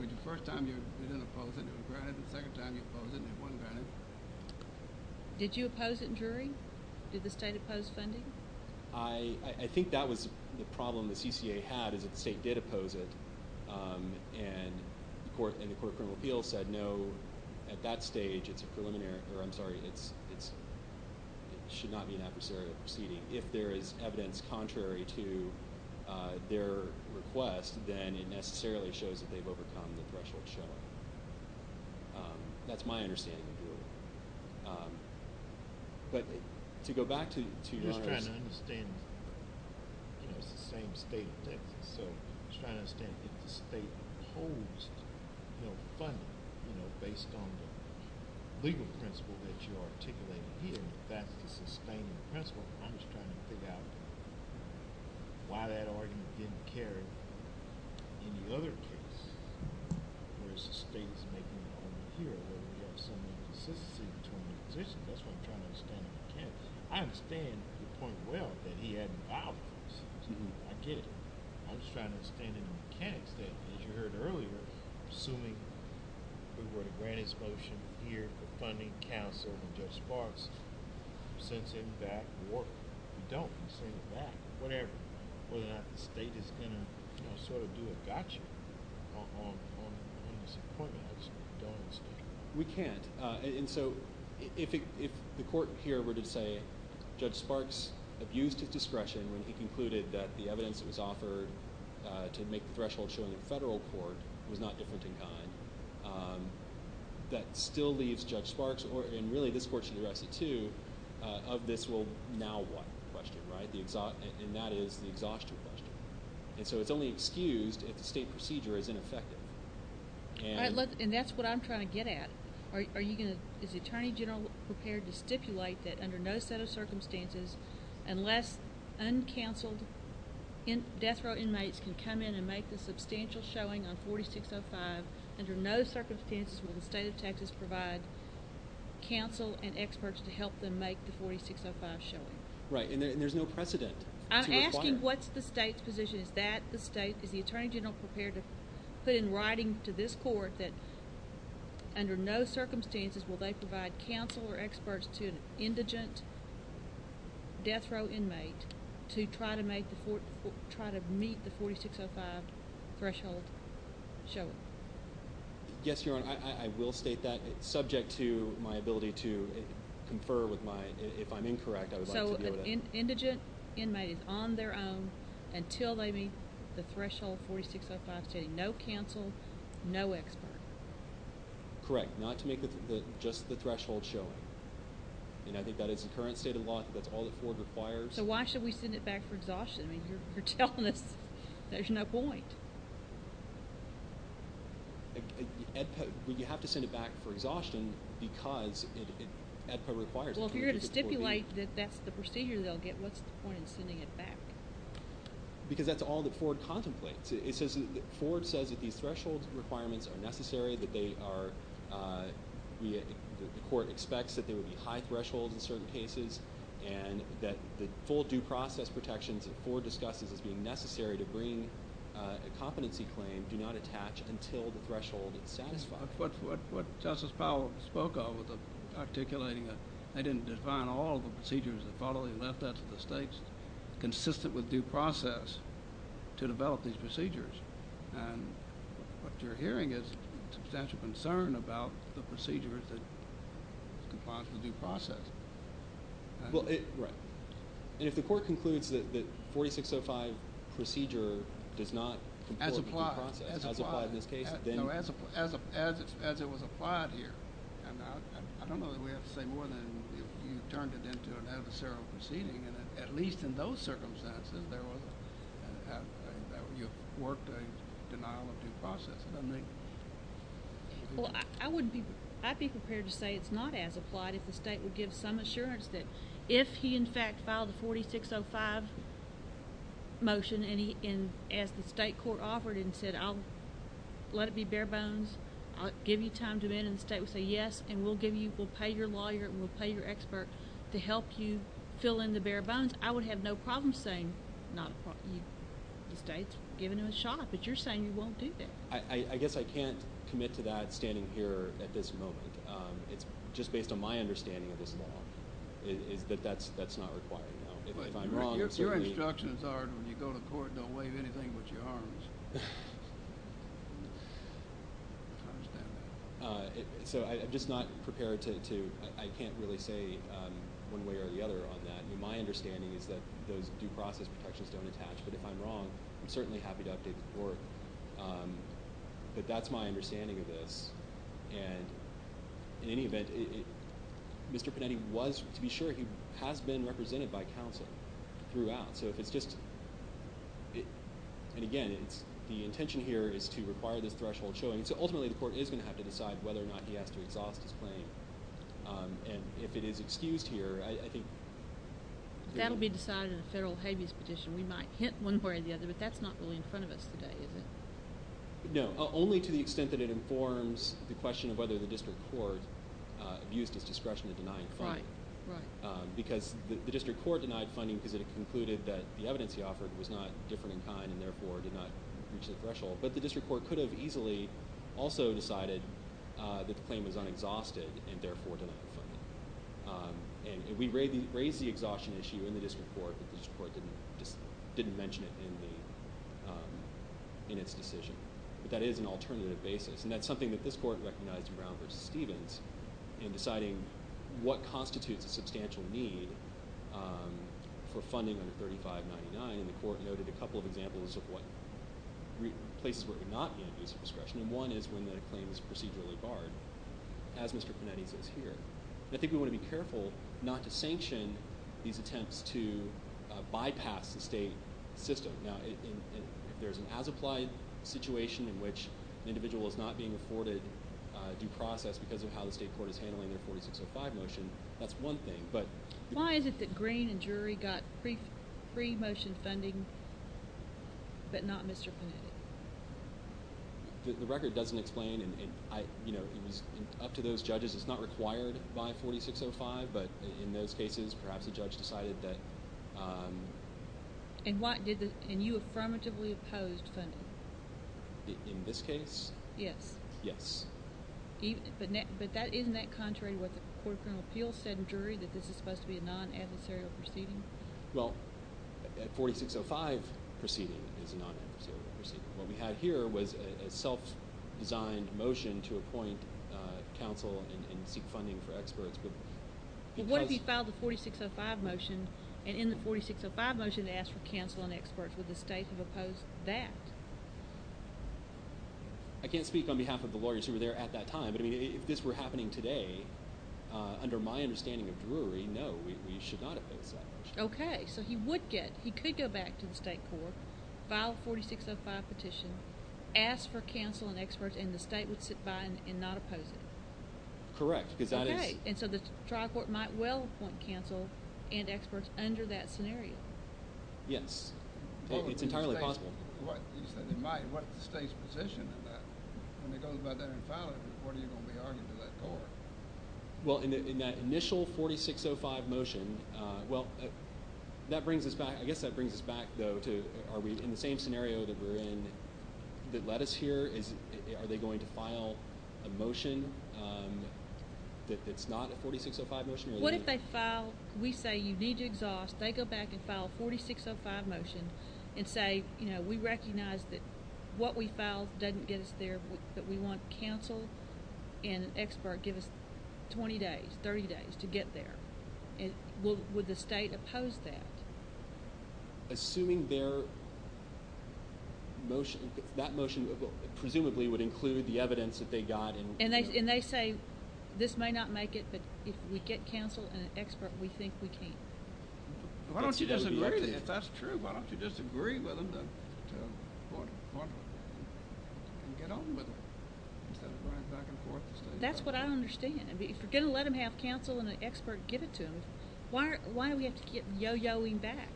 The first time you didn't oppose it, it was granted. The second time you opposed it, it wasn't granted. Did you oppose it in jury? Did the state oppose funding? I think that was the problem the CCA had is that the state did oppose it, and the court in the field said no, at that stage it's a preliminary or, I'm sorry, it should not be necessary to proceed. If there is evidence contrary to their request, then it necessarily shows that they've overcome the threshold shell. That's my understanding of it. But to go back to your question. I'm just trying to understand. It's the same state thing. So I'm just trying to understand if the state opposed funding based on the legal principle that you are articulating here. In fact, it's the same principle. I'm just trying to figure out why that argument didn't carry in the other case. There's a state thing in the field. There's some consistency between existence. That's what I'm trying to understand. I understand quite well that he had vowed to do. I get it. I'm just trying to understand the mechanics of it. As you heard earlier, assuming we were to grant his motion here for funding counsel in just parts, since in fact we don't consider that. Whatever. We can't. And so if the court here were to say Judge Sparks abused his discretion when he concluded that the evidence was offered to make the threshold shell in the federal court, it was not different in kind. That still leaves Judge Sparks, and really this court should do that too, of this will now want the question. And that is the exhaustion question. And so it's only excused if the state procedure is ineffective. And that's what I'm trying to get at. Is the Attorney General prepared to stipulate that under no set of circumstances, unless uncounseled death row inmates can come in and make a substantial showing on 4605, under no circumstances would the state of Texas provide counsel and experts to help them make the 4605 showing? Right. And there's no precedent. I'm asking what's the state's position. Is that the state? Is the Attorney General prepared to put in writing to this court that under no circumstances will they provide counsel or experts to an indigent death row inmate to try to meet the 4605 threshold showing? Yes, Your Honor. I will state that subject to my ability to confer if I'm incorrect. So an indigent inmate is on their own until they meet the threshold 4605 stating no counsel, no experts. Correct. Not to meet just the threshold showing. And I think that is the current state of law. That's all the court requires. So why should we send it back for exhaustion if you're telling us there's no point? You have to send it back for exhaustion because it requires it. Well, if you're going to stipulate that that's the procedure they'll get, what's the point in sending it back? Because that's all the court contemplates. It says the court says that these threshold requirements are necessary, that the court expects that there would be high thresholds in certain cases, and that the full due process protections that the court discusses as being necessary to bring a competency claim do not attach until the threshold is satisfied. What Justice Powell spoke of, articulating it, I didn't define all the procedures that probably left us at the stakes consistent with due process to develop these procedures. And what you're hearing is substantial concern about the procedures that comprise the due process. Well, if the court concludes that the 4605 procedure does not comply with due process, as it was applied here, and I don't know whether we have to say more than you've turned it into an adversarial proceeding, at least in those circumstances, there was a work or a denial of due process. Well, I'd be prepared to say it's not as applied if the state would give some assurance that if he in fact filed a 4605 motion as the state court offered and said, I'll let it be bare bones, I'll give you time to amend, and the state would say, yes, and we'll pay your lawyer and we'll pay your expert to help you fill in the bare bones. I would have no problem saying the state's giving him a shot, but you're saying you won't do that. I guess I can't commit to that standing here at this moment. It's just based on my understanding at this moment. But that's not required. Your instruction is that when you go to court, don't leave anything with your arms. So I'm just not prepared to say, I can't really say one way or the other on that. My understanding is that those due process protections don't attach, but if I'm wrong, I certainly have to go up to the court. But that's my understanding of this. And in any event, Mr. Panetti was, to be sure, he has been represented by counsel throughout. So if it's just, and again, the intention here is to require this threshold of showing. So ultimately the court is going to have to decide whether or not he has to exhaust his claim. And if it is excused here, I think... That will be decided in a federal habeas petition. We might hint one way or the other, but that's not really in front of us today, is it? No, only to the extent that it informs the question of whether the district court used its discretion to deny a claim. Right, right. Because the district court denied funding because it concluded that the evidence he offered was not different in time and therefore did not reach the threshold. But the district court could have easily also decided that the claim was unexhausted and therefore denied the claim. And we raised the exhaustion issue in the district court. The district court didn't mention it in its decision. But that is an alternative basis. And that's something that this court recognized in Brown v. Stevens in deciding what constitutes a substantial need for funding under 3599. The court noted a couple of examples of places where it did not have use of discretion. And one is when a claim is procedurally hard. As Mr. Panetti puts it here. I think we want to be careful not to sanction these attempts to bypass the state system. Now, if there's an as-applied situation in which an individual is not being afforded due process because of how the state court is handling their 4605 motion, that's one thing. Why is it that Green and Drury got free motion funding but not Mr. Panetti? The record doesn't explain. It's up to those judges. It's not required by 4605. But in those cases, perhaps the judge decided that. And you affirmatively opposed funding? In this case? Yes. Yes. But isn't that contrary with the Court of Appeals said in Drury that this is supposed to be a non-adversarial proceeding? Well, that 4605 proceeding is a non-adversarial proceeding. What we have here was a self-designed motion to appoint counsel and seek funding for experts. What if he filed the 4605 motion and in the 4605 motion asked for counsel and experts? Would the state have opposed that? I can't speak on behalf of the lawyers who were there at that time. But if this were happening today, under my understanding of Drury, we know we should not have opposed that motion. Okay. So you could go back to the state court, file a 4605 petition, ask for counsel and experts, and the state would sit by and not oppose it? Correct. Okay. And so the trial court might well appoint counsel and experts under that scenario? Yes. It's entirely possible. Right. What if the state's position is that? When they go to go out there and file it, what are you going to argue to that court? Well, in that initial 4605 motion, well, that brings us back. I guess that brings us back, though, to are we in the same scenario that we're in that led us here? Are they going to file a motion that's not a 4605 motion? What if they file? We say you need to exhaust. They go back and file a 4605 motion and say, you know, we recognize that what we file doesn't get us there, but we want counsel and an expert to give us 20 days, 30 days to get there. Would the state oppose that? Assuming their motion, that motion presumably would include the evidence that they got. And they say this may not make it, but if we get counsel and an expert, we think we can. Why don't you just agree with it? That's true. Why don't you just agree with them? And get on with it. That's what I understand. If you're going to let them have counsel and an expert give it to them, why do we have to get yo-yoing back?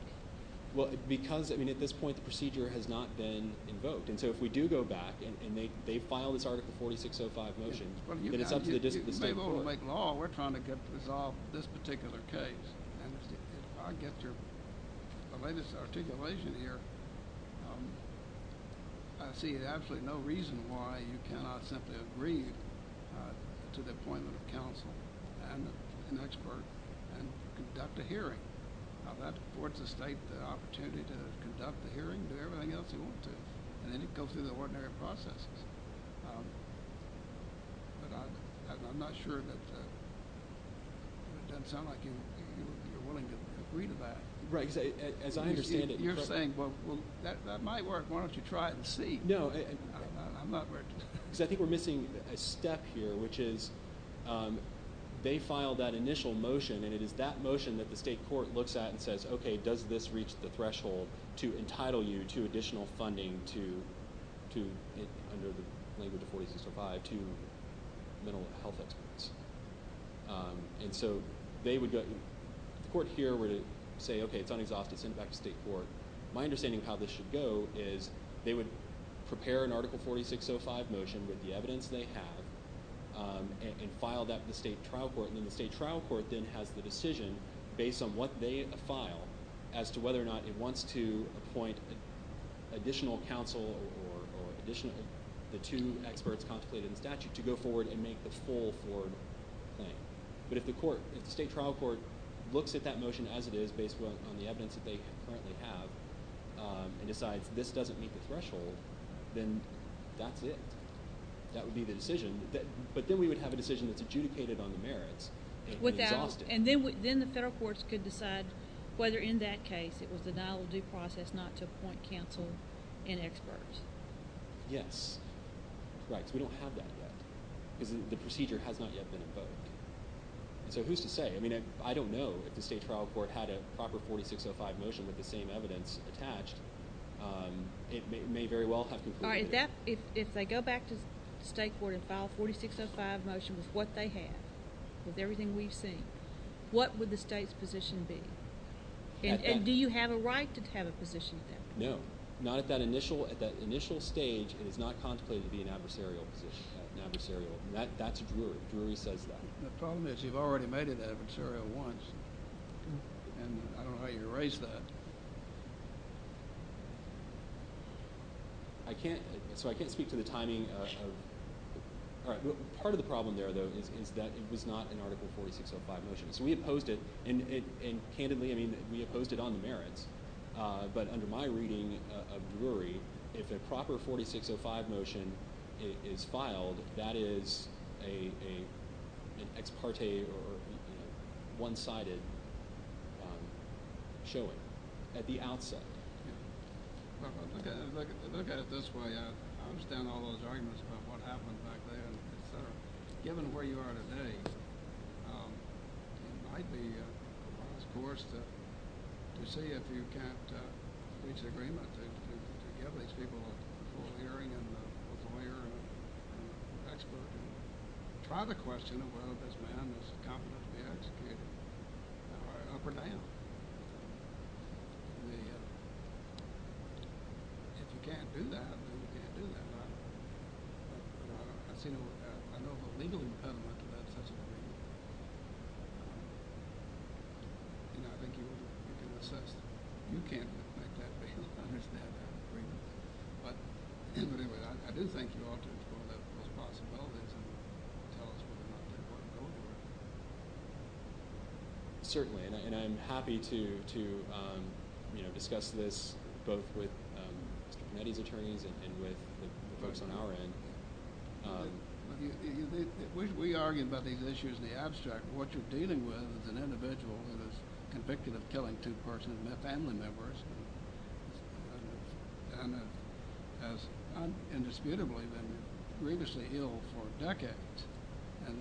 Well, because, I mean, at this point, the procedure has not been convoked. And so if we do go back and they file this Article 4605 motion, then it's up to the state. You may go to Lake Law and we're trying to resolve this particular case. If I get your latest articulation here, I see absolutely no reason why you cannot simply agree to the appointment of counsel and an expert and conduct a hearing. Now, that affords the state the opportunity to conduct the hearing and everything else you want to do. And then you can go through the ordinary process. But I'm not sure that that sounds like you're willing to agree to that. Right. As I understand it. You're saying, well, that might work. Why don't you try it and see? No. I think we're missing a step here, which is they file that initial motion, and it is that motion that the state court looks at and says, okay, does this reach the threshold to entitle you to additional funding under the language of 4605 to mental health experts? And so the court here would say, okay, it's unexhausted. Send it back to the state court. My understanding of how this should go is they would prepare an Article 4605 motion with the evidence they have and file that to the state trial court. And then the state trial court then has the decision based on what they file as to whether or not it wants to appoint additional counsel or the two experts constituted in the statute to go forward and make this full forward payment. But if the state trial court looks at that motion as it is based on the evidence that they currently have and decides this doesn't meet the threshold, then that's it. That would be the decision. But then we would have a decision that's adjudicated on the merits. And then the federal courts could decide whether, in that case, it was a non-due process not to appoint counsel and experts. Yes. We don't have that yet. The procedure has not yet been imposed. So who's to say? I mean, I don't know if the state trial court had a proper 4605 motion with the same evidence attached. It may very well have concluded. All right, if they go back to the state court and file a 4605 motion with what they have, with everything we've seen, what would the state's position be? And do you have a right to have a position? No. Not at that initial stage. It is not contemplated to be an adversarial position. That's where we said that. The problem is you've already made it adversarial once. And I don't know how you can raise that. I can't speak to the timing. Part of the problem there, though, is that it's not an Article 4605 motion. So we opposed it. And candidly, I mean, we opposed it on merit. But under my reading of blurry, if the proper 4605 motion is filed, that is an ex parte or one-sided showing at the outset. Look at it this way. I understand all those arguments about what happened back there. Given where you are today, it might be a false course to see if you can't disagree with it. You have these people who are hearing and are aware. And that's a good point. Part of the question of whether there's an amnesty competent to be executed, I don't know for that. I mean, you can't do that. You can't do that. I don't know how legally you've done that. But that's a good point. Certainly. And I'm happy to discuss this both with many of the attorneys and with the folks on our end. I think that's a good point. What you're dealing with is an individual who is convicted of killing two persons in the family members and has indisputably been grievously ill for decades. And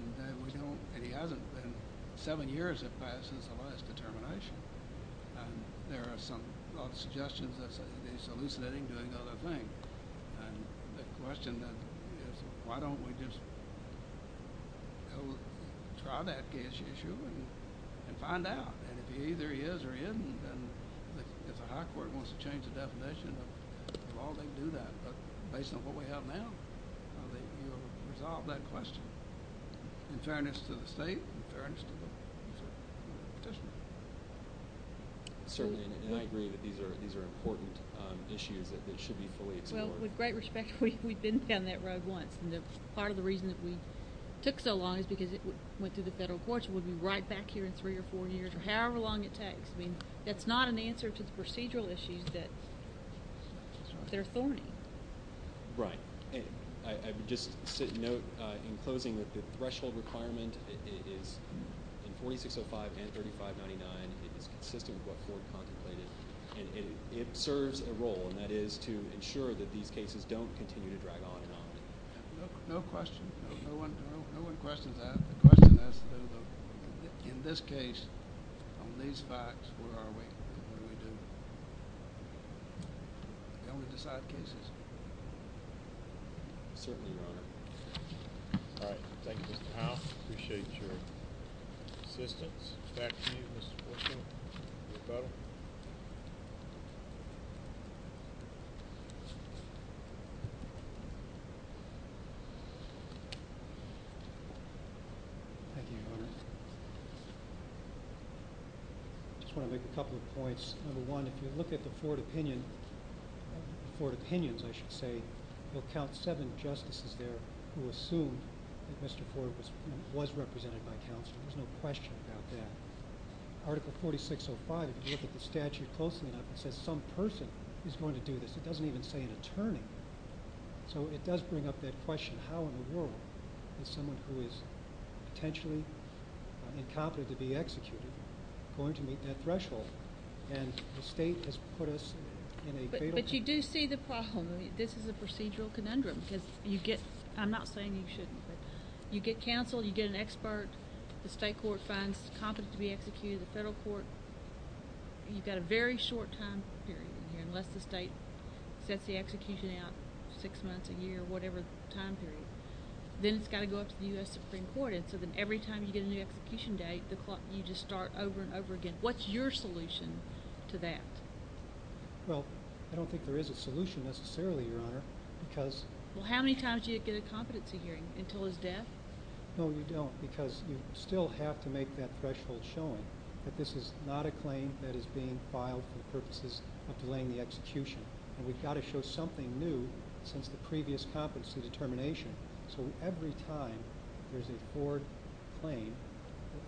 he hasn't been seven years have passed since the last determination. There are some suggestions that he's hallucinating to another thing. The question is, why don't we just try to ask the issue and find out? And if he either is or isn't, if the high court wants to change the definition, we'll all do that. But based on what we have now, I think we'll resolve that question. In fairness to the state, in fairness to the people. Certainly. And I agree that these are important issues that should be fully explored. Well, with great respect, we've been down that road once. And part of the reason that we took so long is because it went through the federal courts and we'll be right back here in three or four years, or however long it takes. I mean, that's not an answer to the procedural issues that they're forming. Right. I would just note, in closing, that the threshold requirement is 4605 and 3599. It serves a role, and that is to ensure that these cases don't continue to drag on. No question. No one questions that. The question is, in this case, these facts, where are we? I don't want to decide cases. All right. Thank you. I appreciate your assistance. Thank you. Thank you. Any further? Thank you. I just want to make a couple of points. Number one, if you look at the court opinion, the court opinions, I should say, you'll count seven justices there who assume that Mr. Ford was represented by counsel. There's no question about that. Article 4605, if you look at the statute closely enough, it says some person is going to do this. It doesn't even say an attorney. So it does bring up that question. But how in the world is someone who is potentially incompetent to be executed going to meet that threshold? And the state has put us in a great position. But you do see the problem. This is a procedural conundrum. I'm not saying you shouldn't. You get counsel. You get an expert. The state court finds incompetent to be executed. The federal court. You've got a very short time period unless the state sets the execution out, six months, a year, whatever the time period. Then it's got to go up to the U.S. Supreme Court. And so every time you get a new execution date, you just start over and over again. What's your solution to that? Well, I don't think there is a solution necessarily, Your Honor. How many times do you get a competency hearing? Until his death? No, we don't because you still have to make that threshold shown that this is not a claim that is being filed for the purposes of delaying the execution. We've got to show something new since the previous competency determination. So every time there's a forward claim,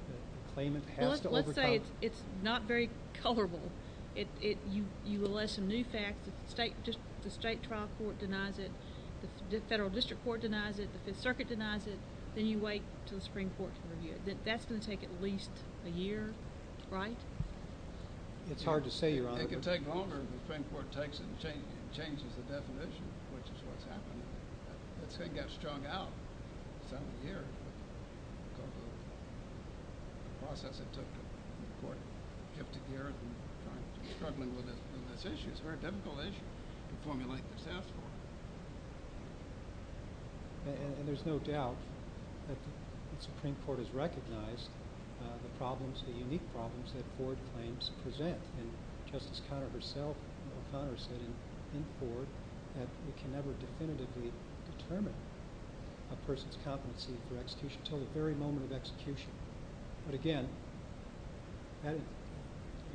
the claimant has to overtime it. Let's say it's not very colorable. You less a new fact. The state trial court denies it. The federal district court denies it. The circuit denies it. Then you wait until the Supreme Court to review it. That's going to take at least a year, right? It's hard to say, Your Honor. It can take longer if the Supreme Court takes it and changes the definition. That's what's happening. It's going to get strung out. It's going to take a year. The process that took, what, 50 years? Struggling with this issue. It's a very difficult issue to formulate itself. And there's no doubt that the Supreme Court has recognized the problems, the problems that forward claims present. And Justice Conover herself and her father said in court that that would definitively determine a person's competency for execution until the very moment of execution. But again, that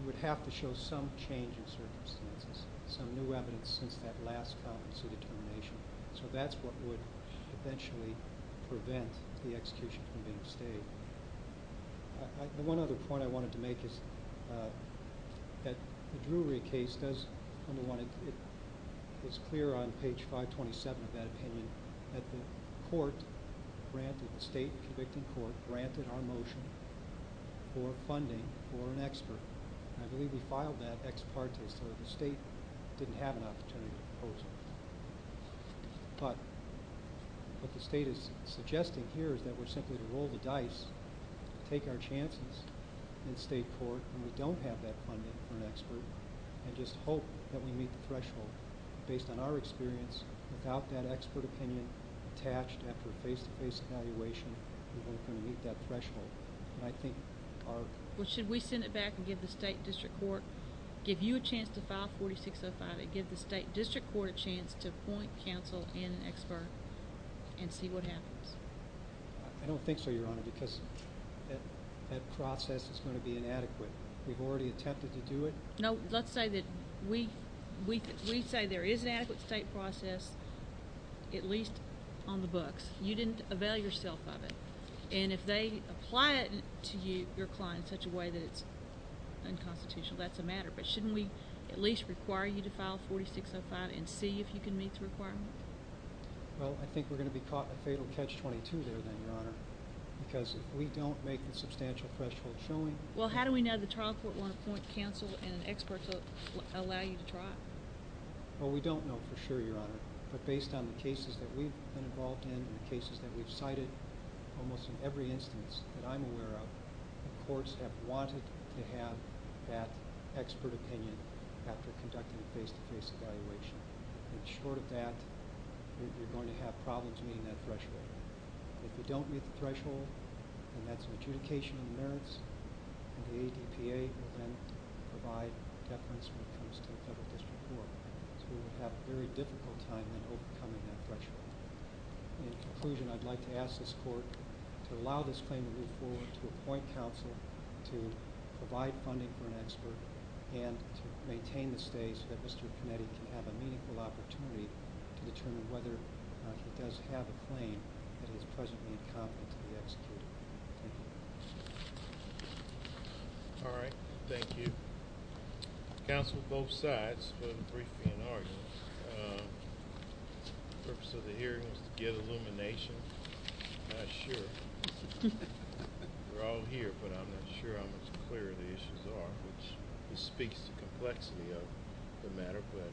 would have to show some change in circumstances, some new evidence since that last competency determination. So that's what would eventually prevent the execution from being stable. One other point I wanted to make is that the Drury case does come alive. It's clear on page 527 of that opinion that the court granted the state, the convicted court, granted our motion for funding for an expert. I believe we filed that ex parte so that the state didn't have an opportunity to oppose it. But what the state is suggesting here is that we're simply to roll the dice, take our chances in the state court when we don't have that funding for an expert and just hope that we meet the threshold. Based on our experience, without that expert opinion attached, after a face-to-face evaluation, we're not going to meet that threshold. And I think our ---- Well, should we send it back and give the state district court, give you a chance to file 4605 and give the state district court a chance to appoint counsel and expert and see what happens? I don't think so, Your Honor, because that process is going to be inadequate. We've already attempted to do it. No, let's say that we say there is an adequate state process, at least on the books. You didn't avail yourself of it. And if they apply it to you, they're applying it in such a way that it's unconstitutional. That's a matter. But shouldn't we at least require you to file 4605 and see if you can meet the requirements? Well, I think we're going to be caught in a fatal catch-22 there then, Your Honor, because if we don't make the substantial threshold soon ---- Well, how do we know the trial court won't appoint counsel and an expert will allow you to try? Well, we don't know for sure, Your Honor. But based on the cases that we've been involved in and the cases that we've cited, almost in every instance that I'm aware of, the courts have wanted to have that expert opinion after conducting a face-to-face evaluation. And short of that, we're going to have problems meeting that threshold. If we don't meet the threshold, and that's an adjudication of merits of the ACTA, we're going to provide a death sentence when it comes to the federal district court. So we're going to have a very difficult time in overcoming that threshold. In conclusion, I'd like to ask this court to allow this claim to move forward, to appoint counsel, to provide funding for an expert, and to maintain this case so that the district committee can have a meaningful opportunity to determine whether to best have a claim against the President of the Congress of New Mexico. Thank you. All right. Thank you. Counsel, both sides, will brief me in argument. The purpose of the hearing is to get illumination. I should. We're all here, but I'm not sure how much clearer the issues are, which speaks to the complexity of the matter, but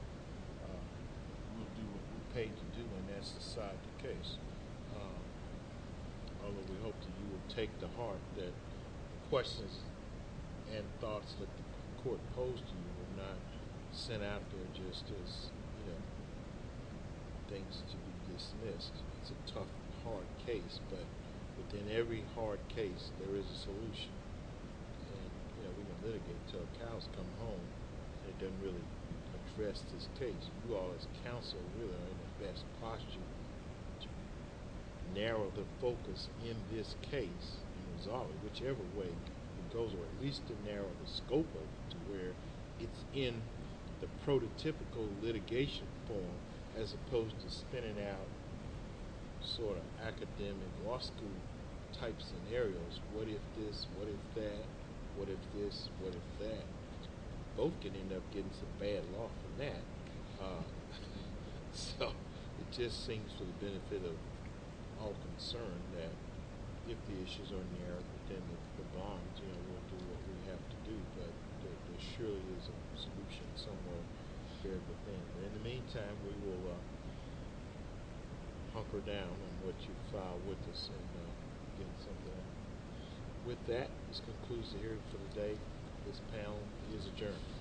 we'll pay attention on that side of the case. Although we hope that you will take to heart the questions and thoughts that the court posed to you and not sent out to the justice It takes to beat this mess. It's a tough, hard case, but within every hard case, there is a solution. We don't live until the counsel comes home and doesn't really address this case. You are his counsel. You are in the best posture to narrow the focus in this case, resolve it whichever way it goes, or at least to narrow the scope of it where it's in the prototypical litigation form as opposed to spinning out sort of academic law student type scenarios. What if this? What if that? What if this? What if that? Both can end up getting some bad luck in that. It just seems to have been a bit of all concern that if the issues are inherited, then the bond's in. We'll do what we have to do to ensure there's a solution somewhere. In the meantime, we will hunker down on what you've filed with us. With that, this concludes the hearing for the day. Mr. Palin, please adjourn.